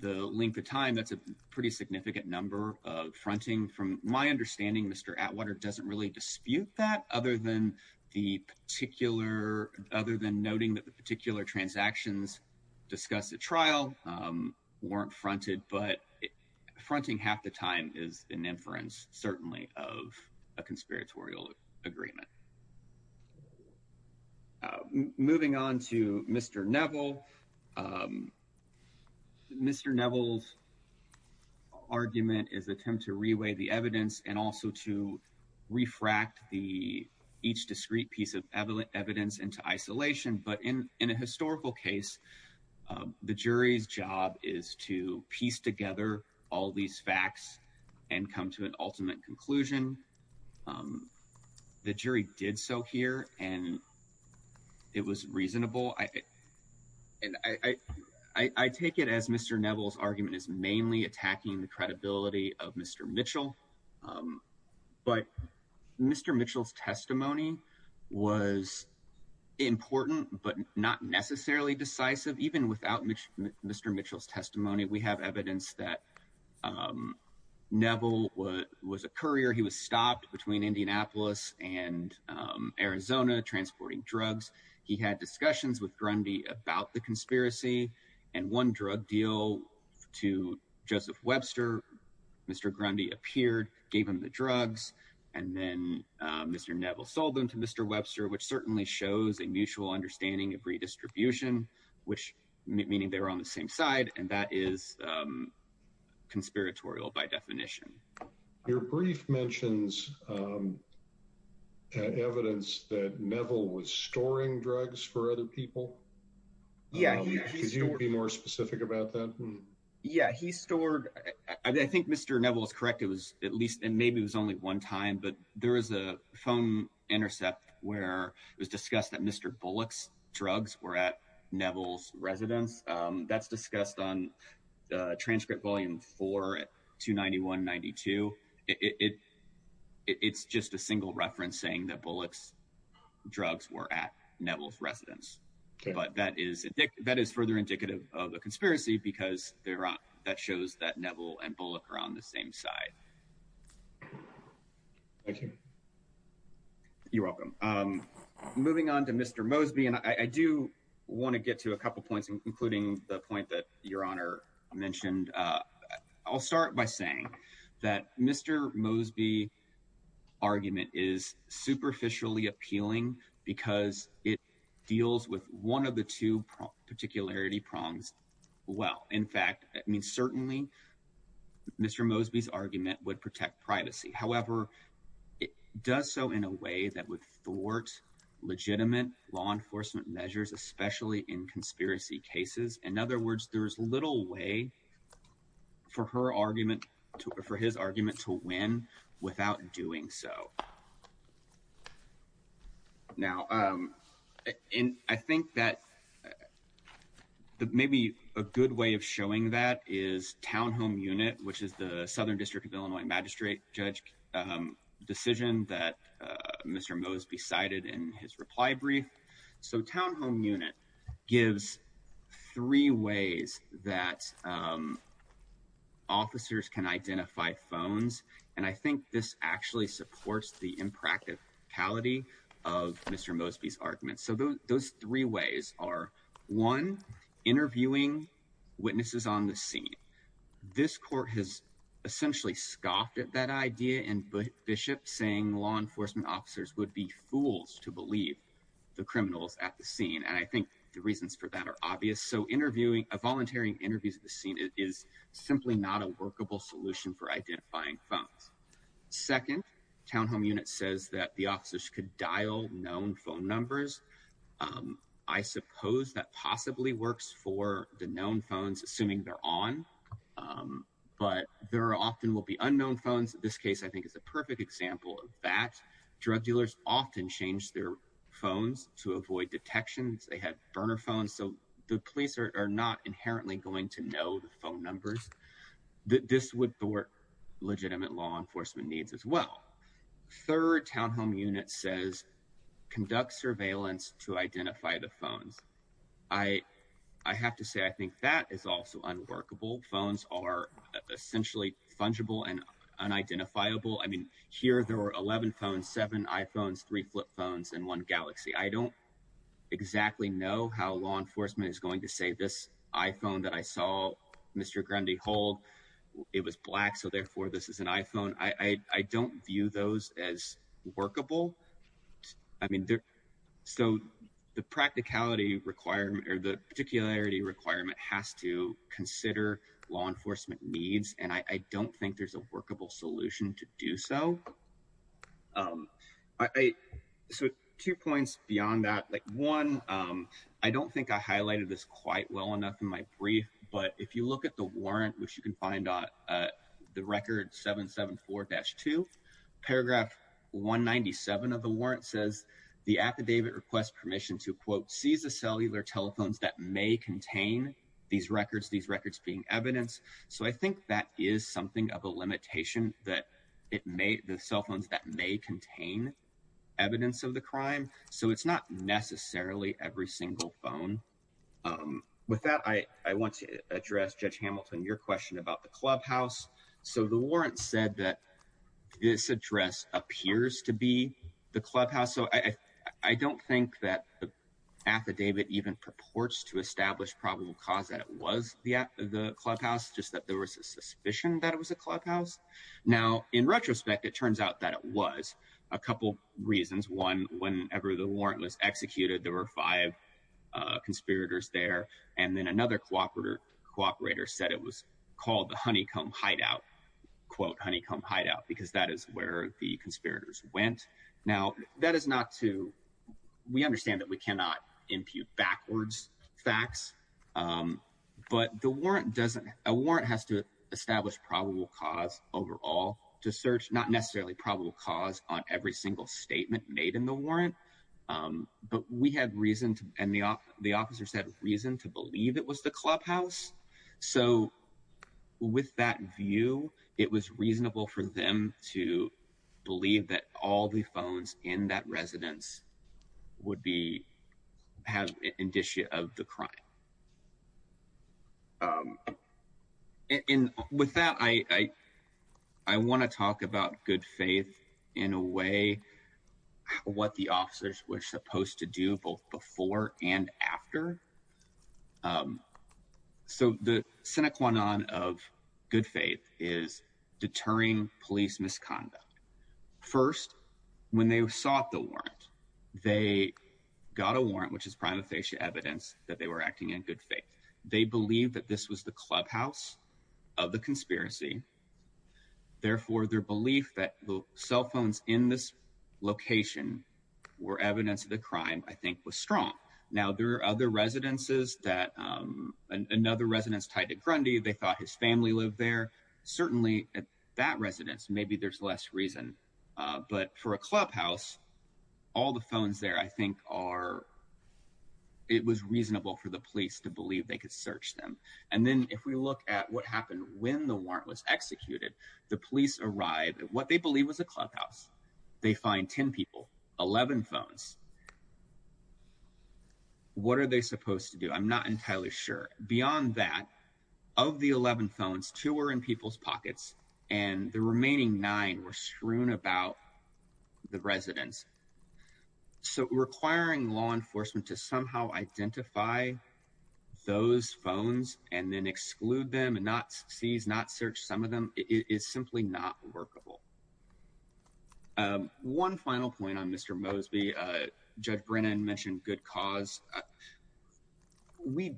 the length of time, that's a pretty significant number of fronting. From my understanding, Mr. Atwater doesn't really dispute that, other than noting that the particular transactions discussed at trial weren't fronted. But fronting half the time is an inference, certainly, of a conspiratorial agreement. Moving on to Mr. Neville, Mr. Neville's argument is an attempt to reweigh the evidence and also to refract each discrete piece of evidence into isolation. But in a historical case, the jury's job is to piece together all these facts and come to an ultimate conclusion. The jury did so here, and it was reasonable. I take it as Mr. Neville's argument is mainly attacking the credibility of Mr. Mitchell. But Mr. Mitchell's testimony was important, but not necessarily decisive. Even without Mr. Mitchell's testimony, we have evidence that Neville was a courier. He was stopped between Indianapolis and Arizona transporting drugs. He had discussions with Grundy about the conspiracy, and one drug deal to Joseph Webster, Mr. Grundy appeared, gave him the drugs, and then Mr. Neville sold them to Mr. Webster, which certainly shows a mutual understanding of redistribution, meaning they were on the same side, and that is conspiratorial by definition. Your brief mentions evidence that Neville was storing drugs for other people. Yeah. Could you be more specific about that? Yeah. He stored – I think Mr. Neville is correct. It was at least – and maybe it was only one time, but there was a phone intercept where it was discussed on transcript volume 4 at 291-92. It's just a single reference saying that Bullock's drugs were at Neville's residence. Okay. But that is further indicative of the conspiracy because that shows that Neville and Bullock are on the same side. Thank you. You're welcome. Moving on to Mr. Mosby, and I do want to get to a couple points, including the point that Your Honor mentioned. I'll start by saying that Mr. Mosby's argument is superficially appealing because it deals with one of the two particularity problems well. In fact, I mean, certainly Mr. Mosby's argument would protect privacy. However, it does so in a way that would thwart legitimate law enforcement measures, especially in conspiracy cases. In other words, there's little way for her argument – for his argument to win without doing so. Now, and I think that maybe a good way of showing that is townhome unit, which is the Southern District of Illinois magistrate judge decision that Mr. Mosby cited in his reply brief. So townhome unit gives three ways that officers can identify phones, and I think this actually supports the impracticality of Mr. Mosby's argument. So those three ways are, one, interviewing witnesses on the scene. This court has essentially scoffed at that idea in Bishop saying law enforcement officers would be fools to believe the criminals at the scene, and I think the reasons for that are obvious. So interviewing – a voluntary interview at the scene is simply not a workable solution for identifying phones. Second, townhome unit says that the officers could dial known phone numbers. I suppose that possibly works for the known phones, assuming they're on, but there often will be unknown phones. This case, I think, is a perfect example of that. Drug dealers often change their phones to avoid detections. They have burner phones, so the police are not inherently going to know the phone numbers. This would thwart legitimate law enforcement needs as well. Third, townhome unit says conduct surveillance to workable phones are essentially fungible and unidentifiable. I mean, here there were 11 phones, seven iPhones, three flip phones, and one Galaxy. I don't exactly know how law enforcement is going to say this iPhone that I saw Mr. Grundy hold, it was black, so therefore this is an iPhone. I don't view those as workable. I mean, so the practicality requirement – or the particularity has to consider law enforcement needs, and I don't think there's a workable solution to do so. Two points beyond that. One, I don't think I highlighted this quite well enough in my brief, but if you look at the warrant, which you can find on the record 774-2, paragraph 197 of the these records, these records being evidence, so I think that is something of a limitation that it may – the cell phones that may contain evidence of the crime, so it's not necessarily every single phone. With that, I want to address, Judge Hamilton, your question about the clubhouse. So the warrant said that this address appears to be the clubhouse, so I don't think that affidavit even purports to establish probable cause that it was the clubhouse, just that there was a suspicion that it was a clubhouse. Now, in retrospect, it turns out that it was, a couple reasons. One, whenever the warrant was executed, there were five conspirators there, and then another cooperator said it was called the honeycomb hideout, quote honeycomb hideout, because that is where the conspirators went. Now, that is not to – we cannot impute backwards facts, but the warrant doesn't – a warrant has to establish probable cause overall to search not necessarily probable cause on every single statement made in the warrant, but we had reason to – and the officer said reason to believe it was the clubhouse, so with that view, it was reasonable for them to believe that all the phones in that residence would be – have indicia of the crime. And with that, I want to talk about good faith in a way, what the officers were supposed to do both before and after. So the sine qua non of good faith is deterring police misconduct. First, when they sought the warrant, they got a warrant, which is prima facie evidence that they were acting in good faith. They believed that this was the clubhouse of the conspiracy, therefore their belief that the cell phones in this location were evidence of the crime, I think, was strong. Now, there are other residences that – another family lived there. Certainly, at that residence, maybe there's less reason, but for a clubhouse, all the phones there, I think, are – it was reasonable for the police to believe they could search them. And then if we look at what happened when the warrant was executed, the police arrived at what they believed was a clubhouse. They find 10 people, 11 phones. What are they supposed to do? I'm not entirely sure. Beyond that, of the 11 phones, two were in people's pockets, and the remaining nine were strewn about the residence. So requiring law enforcement to somehow identify those phones and then exclude them and not seize, not search some of them, is simply not workable. One final point on Mr. Mosby. Judge Brennan mentioned good cause. We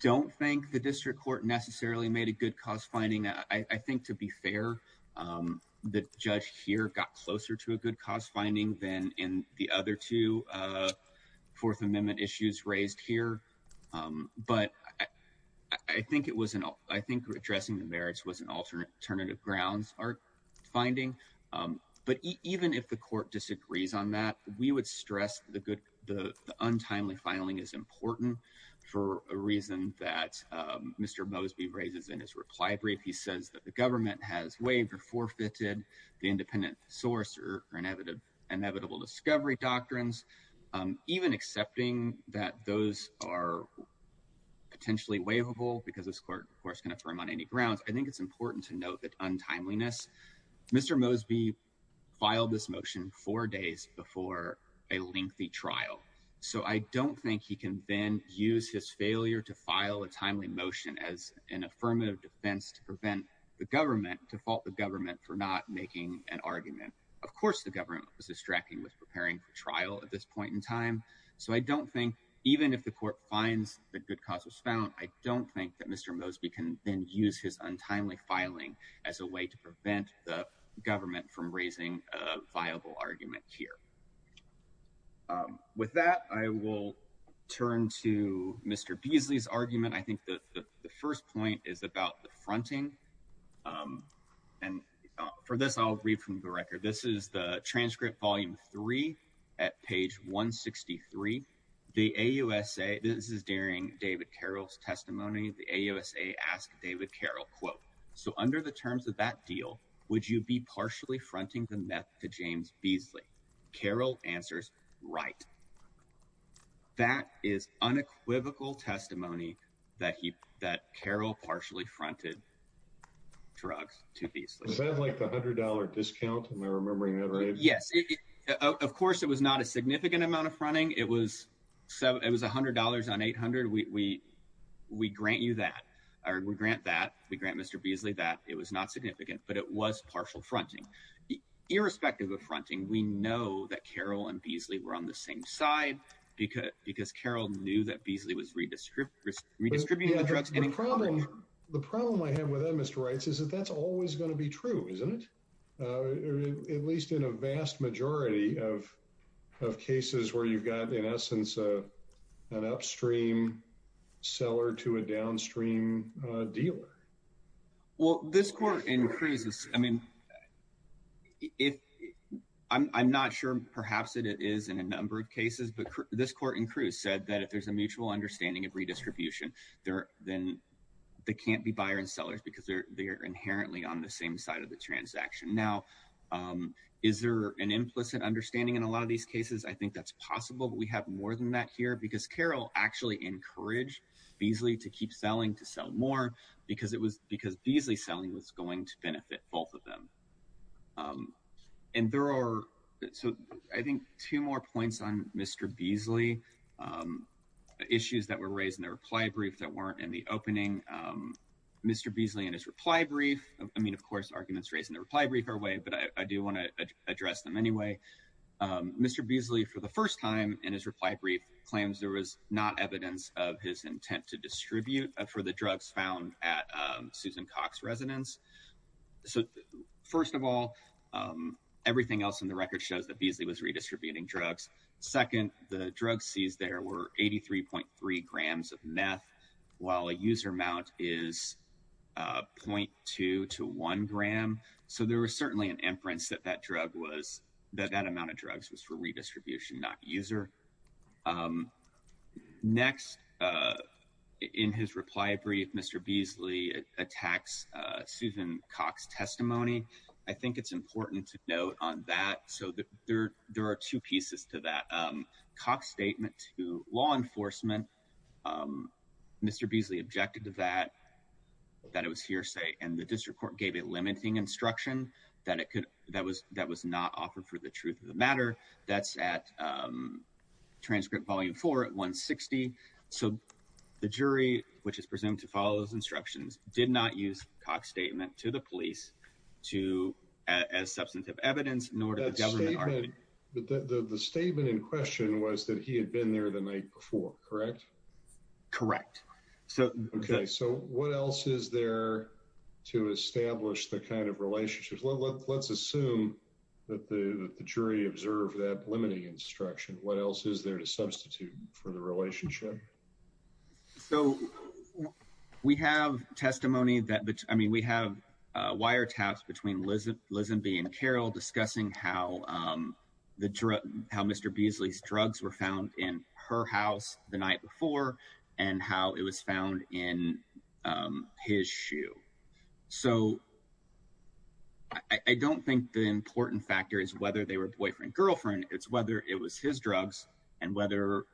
don't think the district court necessarily made a good cause finding. I think, to be fair, the judge here got closer to a good cause finding than in the other two Fourth Amendment issues raised here. But I think it was an – I think addressing the merits was an alternative grounds finding. But even if the court disagrees on that, we would stress the untimely filing is important for a reason that Mr. Mosby raises in his reply brief. He says that the government has waived or forfeited the independent source or inevitable discovery doctrines. Even accepting that those are potentially waivable because this court, of course, can affirm on any grounds, I think it's important to note that untimeliness. Mr. Mosby filed this motion four days before a lengthy trial. So I don't think he can then use his failure to file a timely motion as an affirmative defense to prevent the government, to fault the government, for not making an argument. Of course the government was distracting with preparing for trial at this point in time. So I don't think, even if the court finds that good cause was found, I don't think that Mr. Mosby can then use his untimely filing as a way to prevent the government from raising a viable argument here. With that, I will turn to Mr. Beasley's argument. I think that the first point is about the fronting. And for this, I'll read from the record. This is the transcript volume three at page 163. The AUSA, this is during David Carroll's testimony, the AUSA asked David Carroll, quote, so under the terms of that deal, would you be partially fronting the meth to James Beasley? Carroll answers, right. That is unequivocal testimony that Carroll partially fronted drugs to Beasley. Was that like the $100 discount? Am I remembering that right? Yes. Of course, it was not a significant amount of fronting. It was $100 on 800. We grant you that. We grant that. We grant Mr. Beasley that. It was not significant, but it was partial fronting. Irrespective of fronting, we know that Carroll and Beasley were on the same side because Carroll knew that Beasley was redistributing the drugs. The problem I have with that, Mr. Reitz, is that that's always going to be true, isn't it? At least in a vast majority of cases where you've got, in essence, an upstream seller to a downstream dealer. Well, this court in Cruz, I mean, I'm not sure perhaps it is in a number of cases, but this court in Cruz said that if there's a mutual understanding of redistribution, then they can't be buyer and sellers because they're not. Is there an implicit understanding in a lot of these cases? I think that's possible, but we have more than that here because Carroll actually encouraged Beasley to keep selling, to sell more, because Beasley selling was going to benefit both of them. I think two more points on Mr. Beasley. Issues that were raised in the reply brief that weren't in the opening. Mr. Beasley in his reply brief, I mean, of course, arguments raised in the reply brief are way, but I do want to address them anyway. Mr. Beasley, for the first time in his reply brief, claims there was not evidence of his intent to distribute for the drugs found at Susan Cox residence. So first of all, everything else in the record shows that Beasley was redistributing drugs. Second, the drug seized there were 83.3 grams of meth, while a user amount is 0.2 to 1 gram. So there was certainly an inference that that amount of drugs was for redistribution, not user. Next, in his reply brief, Mr. Beasley attacks Susan Cox's testimony. I think it's important to note on that. So there are two pieces to that. Cox's statement to law enforcement, Mr. Beasley objected to that, that it was hearsay, and the district court gave a limiting instruction that it could, that was not offered for the truth of the matter. That's at transcript volume four at 160. So the jury, which is presumed to follow those instructions, did not use Cox's statement to the police as substantive evidence, nor did the government. The statement in question was that he had been there the night before, correct? Correct. Okay. So what else is there to establish the kind of relationship? Let's assume that the jury observed that limiting instruction. What else is there to substitute for the relationship? So we have testimony that, I mean, we have a wiretaps between Lizzie, Lizzie B and Carol discussing how the drug, how Mr. Beasley's drugs were found in her house the night before and how it was found in his shoe. So I don't think the important factor is whether they were boyfriend, girlfriend, it's whether it was his drugs and whether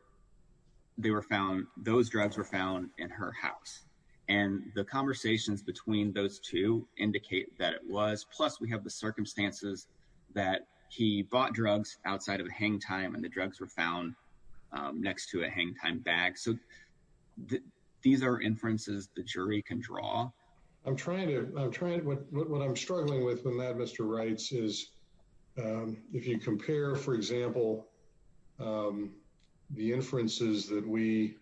they were found, those drugs were found in her house. And the conversations between those two indicate that it was, plus we have the circumstances that he bought drugs outside of the hang time and the drugs were found next to a hang time bag. So these are inferences the jury can draw. I'm trying to, I'm trying to, what I'm struggling with in that Mr. Wrights is if you compare, for example, the inferences that we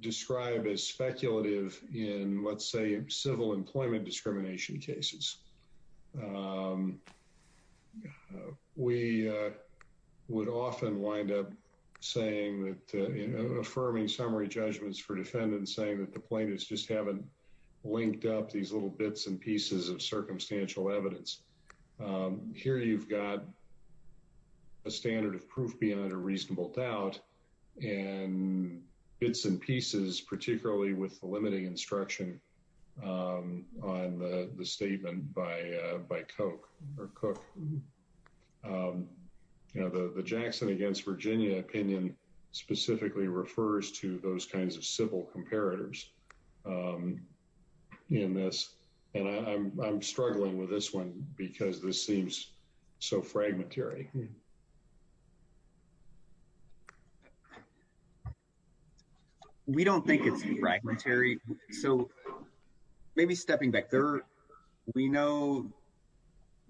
describe as speculative in, let's say, civil employment discrimination cases, we would often wind up saying that, affirming summary judgments for defendants saying that the plaintiffs just haven't linked up these little bits and pieces of circumstantial evidence. Here you've got a standard of proof beyond a reasonable doubt and bits and pieces, particularly with the limiting instruction on the statement by Koch. You know, the Jackson against Virginia opinion specifically refers to those kinds of civil comparators in this. And I'm struggling with this one because this seems so fragmentary. We don't think it's fragmentary. So maybe stepping back there, we know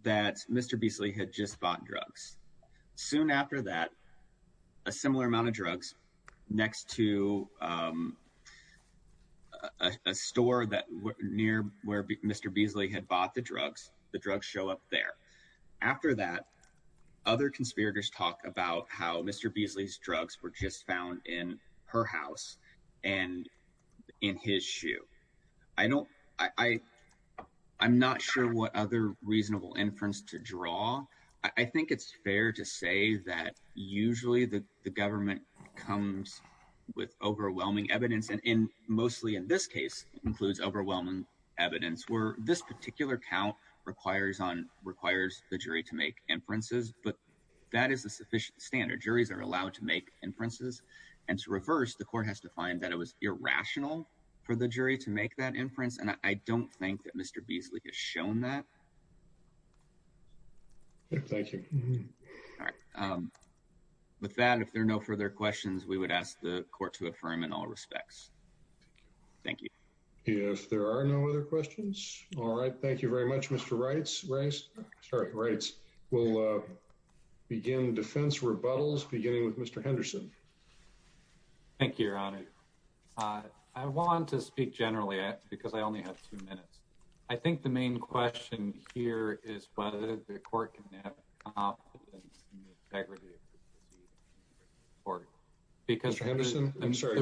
that Mr. Beasley had just drugs next to a store near where Mr. Beasley had bought the drugs. The drugs show up there. After that, other conspirators talk about how Mr. Beasley's drugs were just found in her house and in his shoe. I don't, I'm not sure what other reasonable inference to draw. I think it's fair to say that usually the government comes with overwhelming evidence and mostly in this case includes overwhelming evidence where this particular count requires the jury to make inferences. But that is the sufficient standard. Juries are allowed to make inferences. And to reverse, the court has defined that it was irrational for the jury to make that inference. And I don't think that Mr. Beasley has shown that. Thank you. All right. With that, if there are no further questions, we would ask the court to affirm in all respects. Thank you. Yes, there are no other questions. All right. Thank you very much, Mr. Reitz. We'll begin defense rebuttals beginning with Mr. Henderson. Thank you, Your Honor. I want to speak generally because I only have two minutes. I think the main question here is whether the court can have a complimentary integrity report. Mr. Henderson, I'm sorry.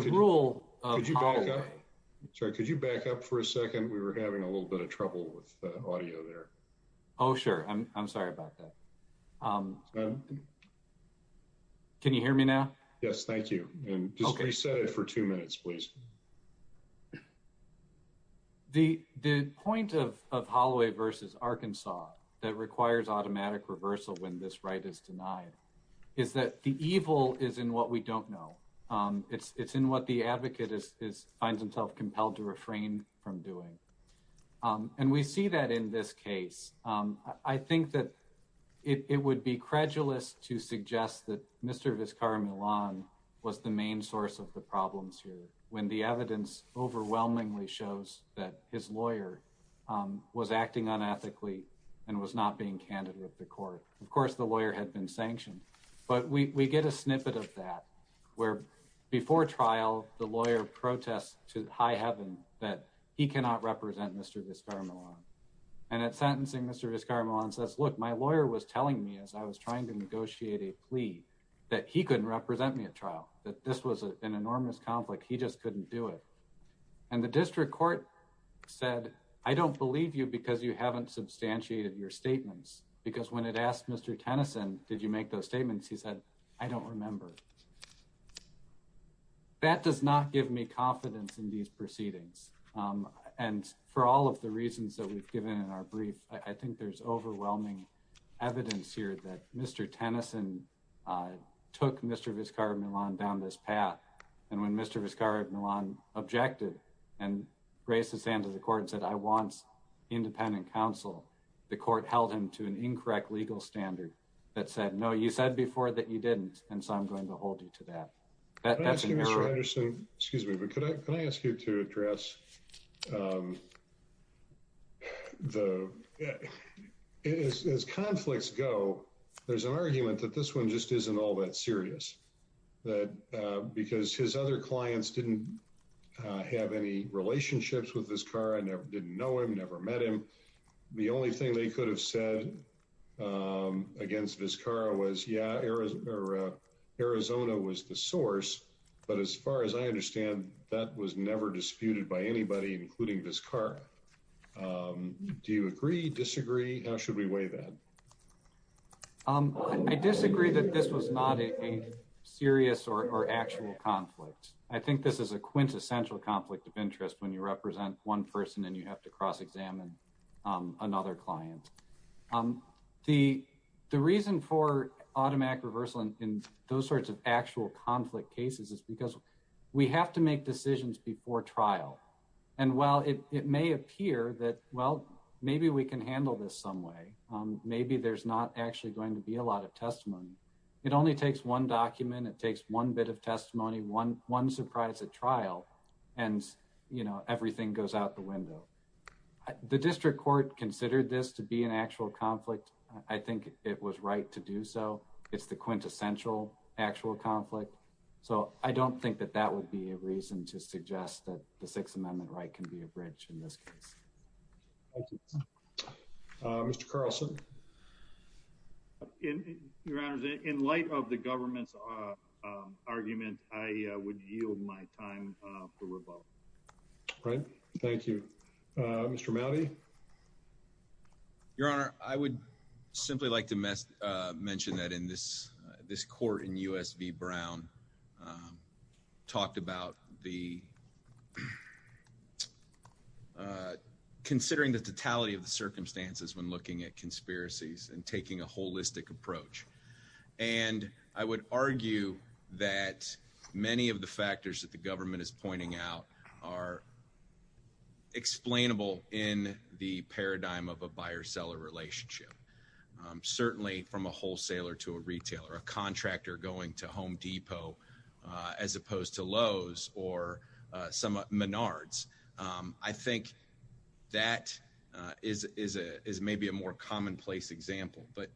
Could you back up for a second? We were having a little bit of trouble with the audio there. Oh, sure. I'm sorry about that. Can you hear me now? Yes. Thank you. Reset it for two minutes, please. The point of Holloway v. Arkansas that requires automatic reversal when this right is denied is that the evil is in what we don't know. It's in what the advocate finds himself compelled to refrain from doing. And we see that in this case. I think that it would be credulous to suggest that Mr. Vizcarra-Millan was the main source of the problems here when the evidence overwhelmingly shows that his lawyer was acting unethically and was not being candid with the court. Of course, the lawyer had been sanctioned. But we get a snippet of that where before trial, the lawyer protests to high heaven that he cannot represent Mr. Vizcarra-Millan. And at sentencing, Mr. Vizcarra-Millan says, look, my lawyer was telling me as I was trying to negotiate a plea that he couldn't represent me at trial, that this was an enormous conflict. He just couldn't do it. And the district court said, I don't believe you because you haven't substantiated your statements. Because when it asked Mr. Tennyson, did you make those statements? He said, I don't remember. That does not give me confidence in these proceedings. And for all of the reasons that we've given in our brief, I think there's overwhelming evidence here that Mr. Tennyson took Mr. Vizcarra-Millan down this path. And when Mr. Vizcarra-Millan objected and raised his hand to the court and said, I want independent counsel, the court held him to an incorrect legal standard that said, no, you said before that you didn't. And so I'm going to hold to that. Excuse me, but can I ask you to address the, as conflicts go, there's an argument that this one just isn't all that serious. That because his other clients didn't have any relationships with Vizcarra, didn't know him, never met him. The only thing they could have said against Vizcarra was, yeah, Arizona was the source. But as far as I understand, that was never disputed by anybody, including Vizcarra. Do you agree, disagree? How should we weigh that? I disagree that this was not a serious or actual conflict. I think this is a quintessential conflict of interest when you represent one person and you have to cross-examine another client. The reason for automatic reversal in those sorts of actual conflict cases is because we have to make decisions before trial. And while it may appear that, well, maybe we can handle this some way, maybe there's not actually going to be a lot of testimony. It only takes one document. It takes one bit of testimony, one surprise at trial, and everything goes out the window. The district court considered this to be an actual conflict. I think it was right to do so. It's the quintessential actual conflict. So I don't think that that would be a reason to suggest that the Sixth Amendment right can be a bridge in this case. Thank you. Mr. Carlson? In light of the government's argument, I would yield my time for rebuttal. All right. Thank you. Mr. Mowdy? Your Honor, I would simply like to mention that in this court in U.S. v. Brown talked about the considering the totality of the circumstances when looking at conspiracies and taking a holistic approach. And I would argue that many of the factors that the government is pointing out are explainable in the paradigm of a buyer-seller relationship, certainly from a wholesaler to a retailer, a contractor going to Home Depot as opposed to Lowe's or Menards. I think that is maybe a more commonplace example. But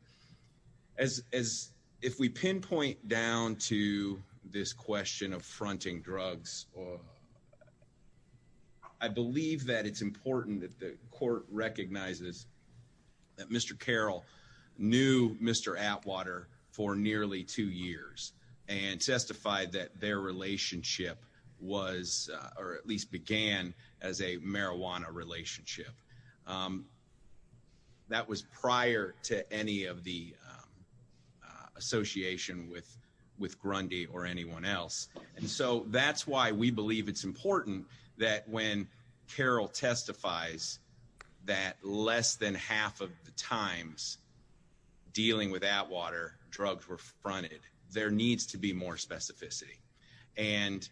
if we pinpoint down to this question of fronting drugs, I believe that it's important that the court recognizes that Mr. Carroll knew Mr. Atwater for nearly two years and testified that their relationship was or at least began as a marijuana relationship. That was prior to any of the association with Grundy or anyone else. And so that's why we believe it's important that when Carroll testifies that less than half of the times dealing with Atwater, drugs were fronted, there needs to be more specificity. And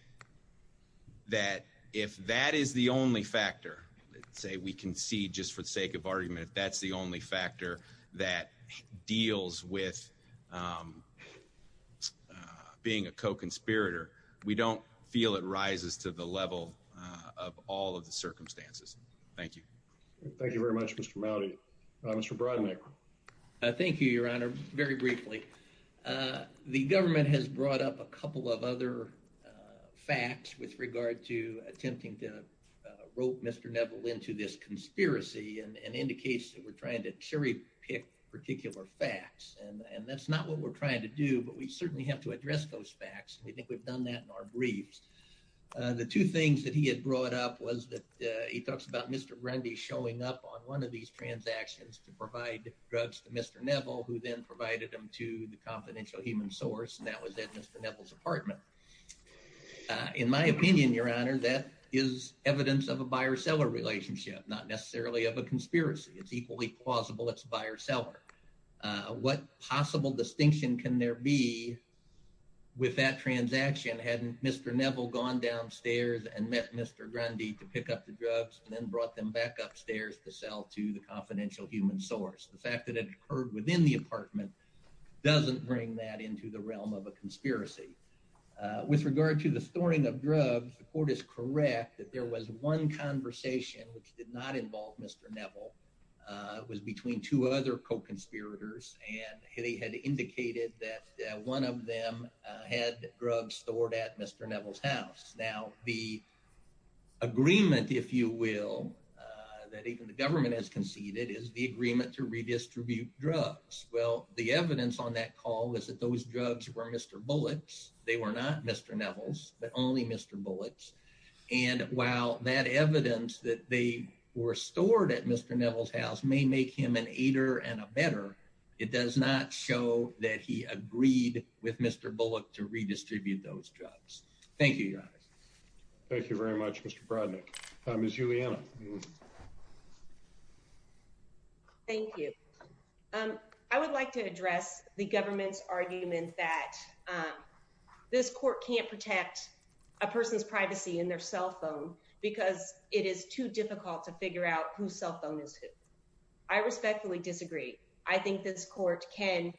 that if that is the only factor, say we can see just for the sake of argument, that's the only factor that deals with being a co-conspirator, we don't feel it rises to the level of all of the circumstances. Thank you. Thank you very much, Mr. Mowdy. Mr. Brodnick. Thank you, Your Honor, very briefly. The government has brought up a couple of other facts with regard to attempting to rope Mr. Neville into this conspiracy and indicates that we're trying to cherry pick particular facts. And that's not what we're trying to do, but we certainly have to address those facts. We think we've done that in our briefs. The two things that he has brought up was that he talks about Mr. Grundy showing up on one of these transactions to provide drugs to Mr. Neville, who then provided them to the confidential human source. And that was in Mr. Neville's apartment. In my opinion, Your Honor, that is evidence of a buyer-seller relationship, not necessarily of a conspiracy. It's equally plausible it's a buyer-seller. What possible distinction can there be with that transaction had Mr. Neville gone downstairs and met Mr. Grundy to pick up the drugs and then brought them back upstairs to sell to the confidential human source? The fact that it occurred within the apartment doesn't bring that into the realm of a conspiracy. With regard to the storing of drugs, the court is correct that there was one conversation which did not involve Mr. Neville. It was between two other co-conspirators, and they had indicated that one of them had drugs stored at Mr. Neville's house. Now, the agreement, if you will, that the government has conceded is the agreement to redistribute drugs. Well, the evidence on that call was that those drugs were Mr. Bullock's. They were not Mr. Neville's, but only Mr. Bullock's. And while that evidence that they were stored at Mr. Neville's house may make him an aider and a better, it does not show that he agreed with Mr. Bullock to redistribute those drugs. Thank you. Thank you very much, Mr. Brodnick. Ms. Juliana. Thank you. I would like to address the government's argument that this court can't protect a person's privacy in their cell phone because it is too difficult to figure out whose cell phone it is. I respectfully disagree. I think this court can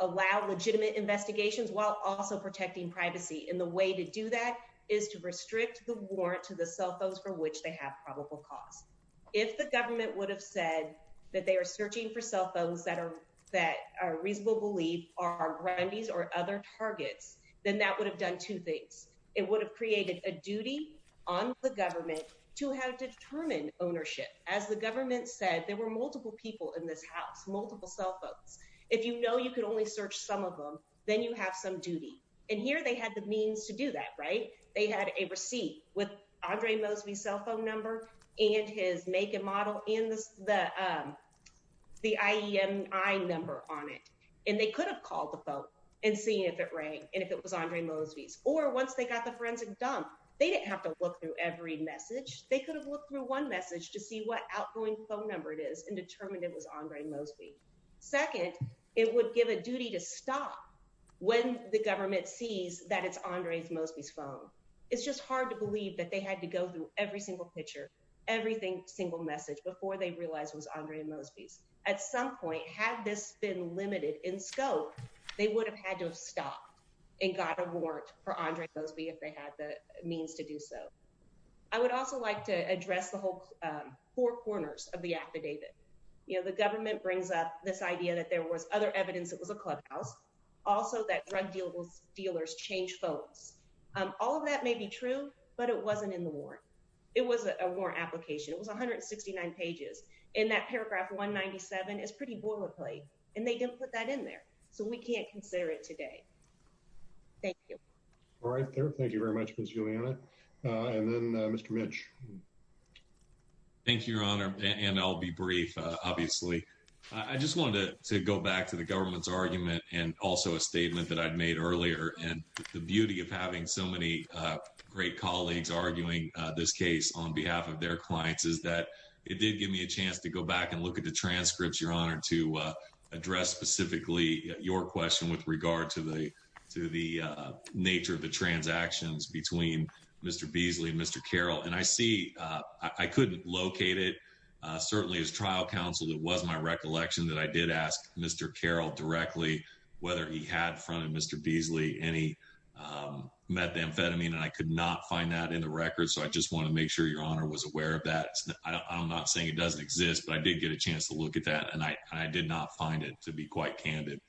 allow legitimate investigations while also protecting privacy. And the way to do that is to restrict the warrant to the cell phones for which they have probable cause. If the government would have said that they are searching for cell phones, it would have created a duty on the government to have determined ownership. As the government said, there were multiple people in this house, multiple cell phones. If you know you can only search some of them, then you have some duty. And here they had the means to do that, right? They had a receipt with Andre Mosby's cell phone number and his make and model and the IEMI number on it. And they could have called the phone and seen if it rang and if it was Andre Mosby's. Or once they got the forensic done, they didn't have to look through every message. They could have looked through one message to see what outgoing phone number it is and determined it was Andre Mosby's. Second, it would give a duty to stop when the government sees that it's Andre Mosby's phone. It's just hard to believe that they had to go through every single picture, every single message before they realized it was Andre Mosby's. At some point, had this been limited in scope, they would have had to stop and got a warrant for Andre Mosby if they had the means to do so. I would also like to address the whole four corners of the affidavit. You know, the government brings up this idea that there was other evidence it was a clubhouse, also that drug dealers change folks. All of that may be true, but it wasn't in the warrant. It wasn't a warrant application. It was 169 pages. And that paragraph 197 is pretty boilerplate. And they don't put that in there. So we can't consider it today. Thank you. All right. Thank you very much, Ms. Juliana. And then Mr. Mitch. Thank you, Your Honor. And I'll be brief, obviously. I just wanted to go back to the government's argument and also a statement that I'd made earlier. And the beauty of having so many great colleagues arguing this case on behalf of their clients is that it did give me a chance to go back and look at the transcripts, Your Honor, to address specifically your question with regard to the to the nature of the transactions between Mr. Beasley and Mr. Carroll. And I see I could locate it certainly as trial counsel. It was my recollection that I did ask Mr. Carroll directly whether he had in front of Mr. Beasley any methamphetamine. And I could not find that in the record. So I just want to make sure Your Honor was aware of that. I'm not saying it doesn't exist, but I did get a chance to look at that. And I did not find it to be quite candid.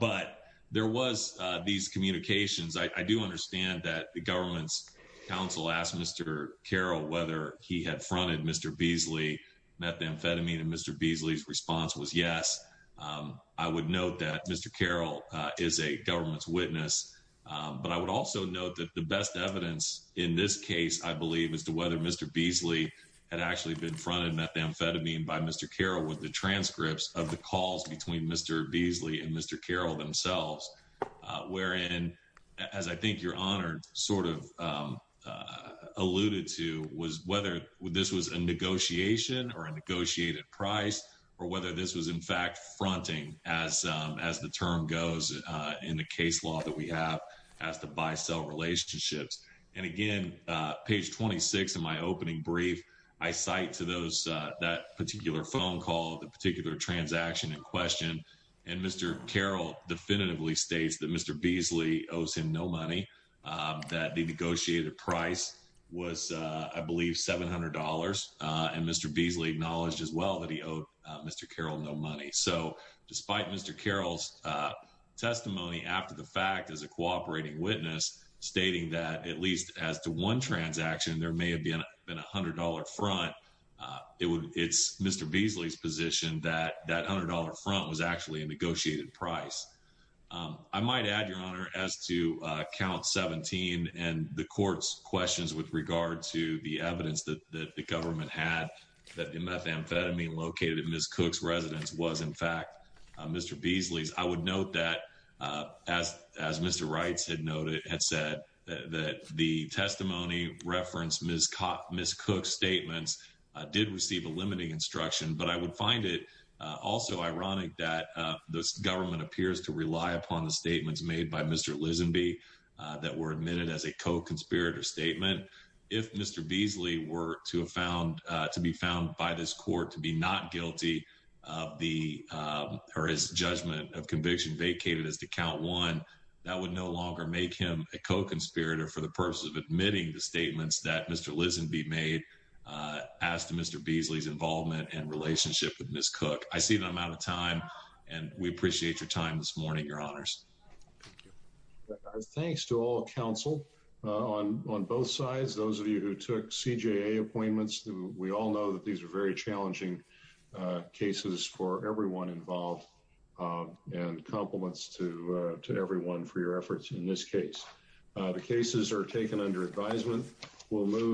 But there was these communications. I do understand that the government's counsel asked Mr. Carroll whether he had fronted Mr. Beasley methamphetamine. And Mr. Beasley's response was yes. I would note that Mr. Carroll is a government's witness. But I would also note that the best evidence in this case, I believe, is to whether Mr. Beasley had actually been fronted methamphetamine by Mr. Carroll with the transcripts of the calls between Mr. Beasley and Mr. Carroll themselves, wherein, as I think Your Honor sort of alluded to, was whether this was a negotiation or a negotiated price or whether this was, in fact, fronting as the term goes in the case law that we have as the buy-sell relationships. And again, page 26 in my opening brief, I cite to those that particular phone call, the particular transaction in question. And Mr. Carroll definitively states that Mr. Beasley owes him no money, that the negotiated price was, I believe, $700. And Mr. Beasley acknowledged as well that he owed Mr. Carroll no money. So despite Mr. Carroll's testimony after the fact as a one transaction, there may have been a $100 front, it's Mr. Beasley's position that that $100 front was actually a negotiated price. I might add, Your Honor, as to count 17 and the court's questions with regard to the evidence that the government had that the methamphetamine located in Ms. Cook's residence was, in fact, Mr. Beasley's, I would note that, as Mr. Wright had said, that the testimony referenced Ms. Cook's statements did receive a limiting instruction. But I would find it also ironic that this government appears to rely upon the statements made by Mr. Lisenby that were admitted as a co-conspirator statement. If Mr. Beasley were to be found by this court to be not guilty of his judgment of conviction vacated as to count one, that would no longer make him a co-conspirator for the purpose of admitting the statements that Mr. Lisenby made as to Mr. Beasley's involvement and relationship with Ms. Cook. I see that I'm out of time, and we appreciate your time this morning, Your Honors. Thanks to all counsel on both sides. Those of you who took CJA appointments, we all know that these are very challenging cases for everyone involved, and compliments to everyone for your efforts in this case. The cases are taken under advisement. We'll move.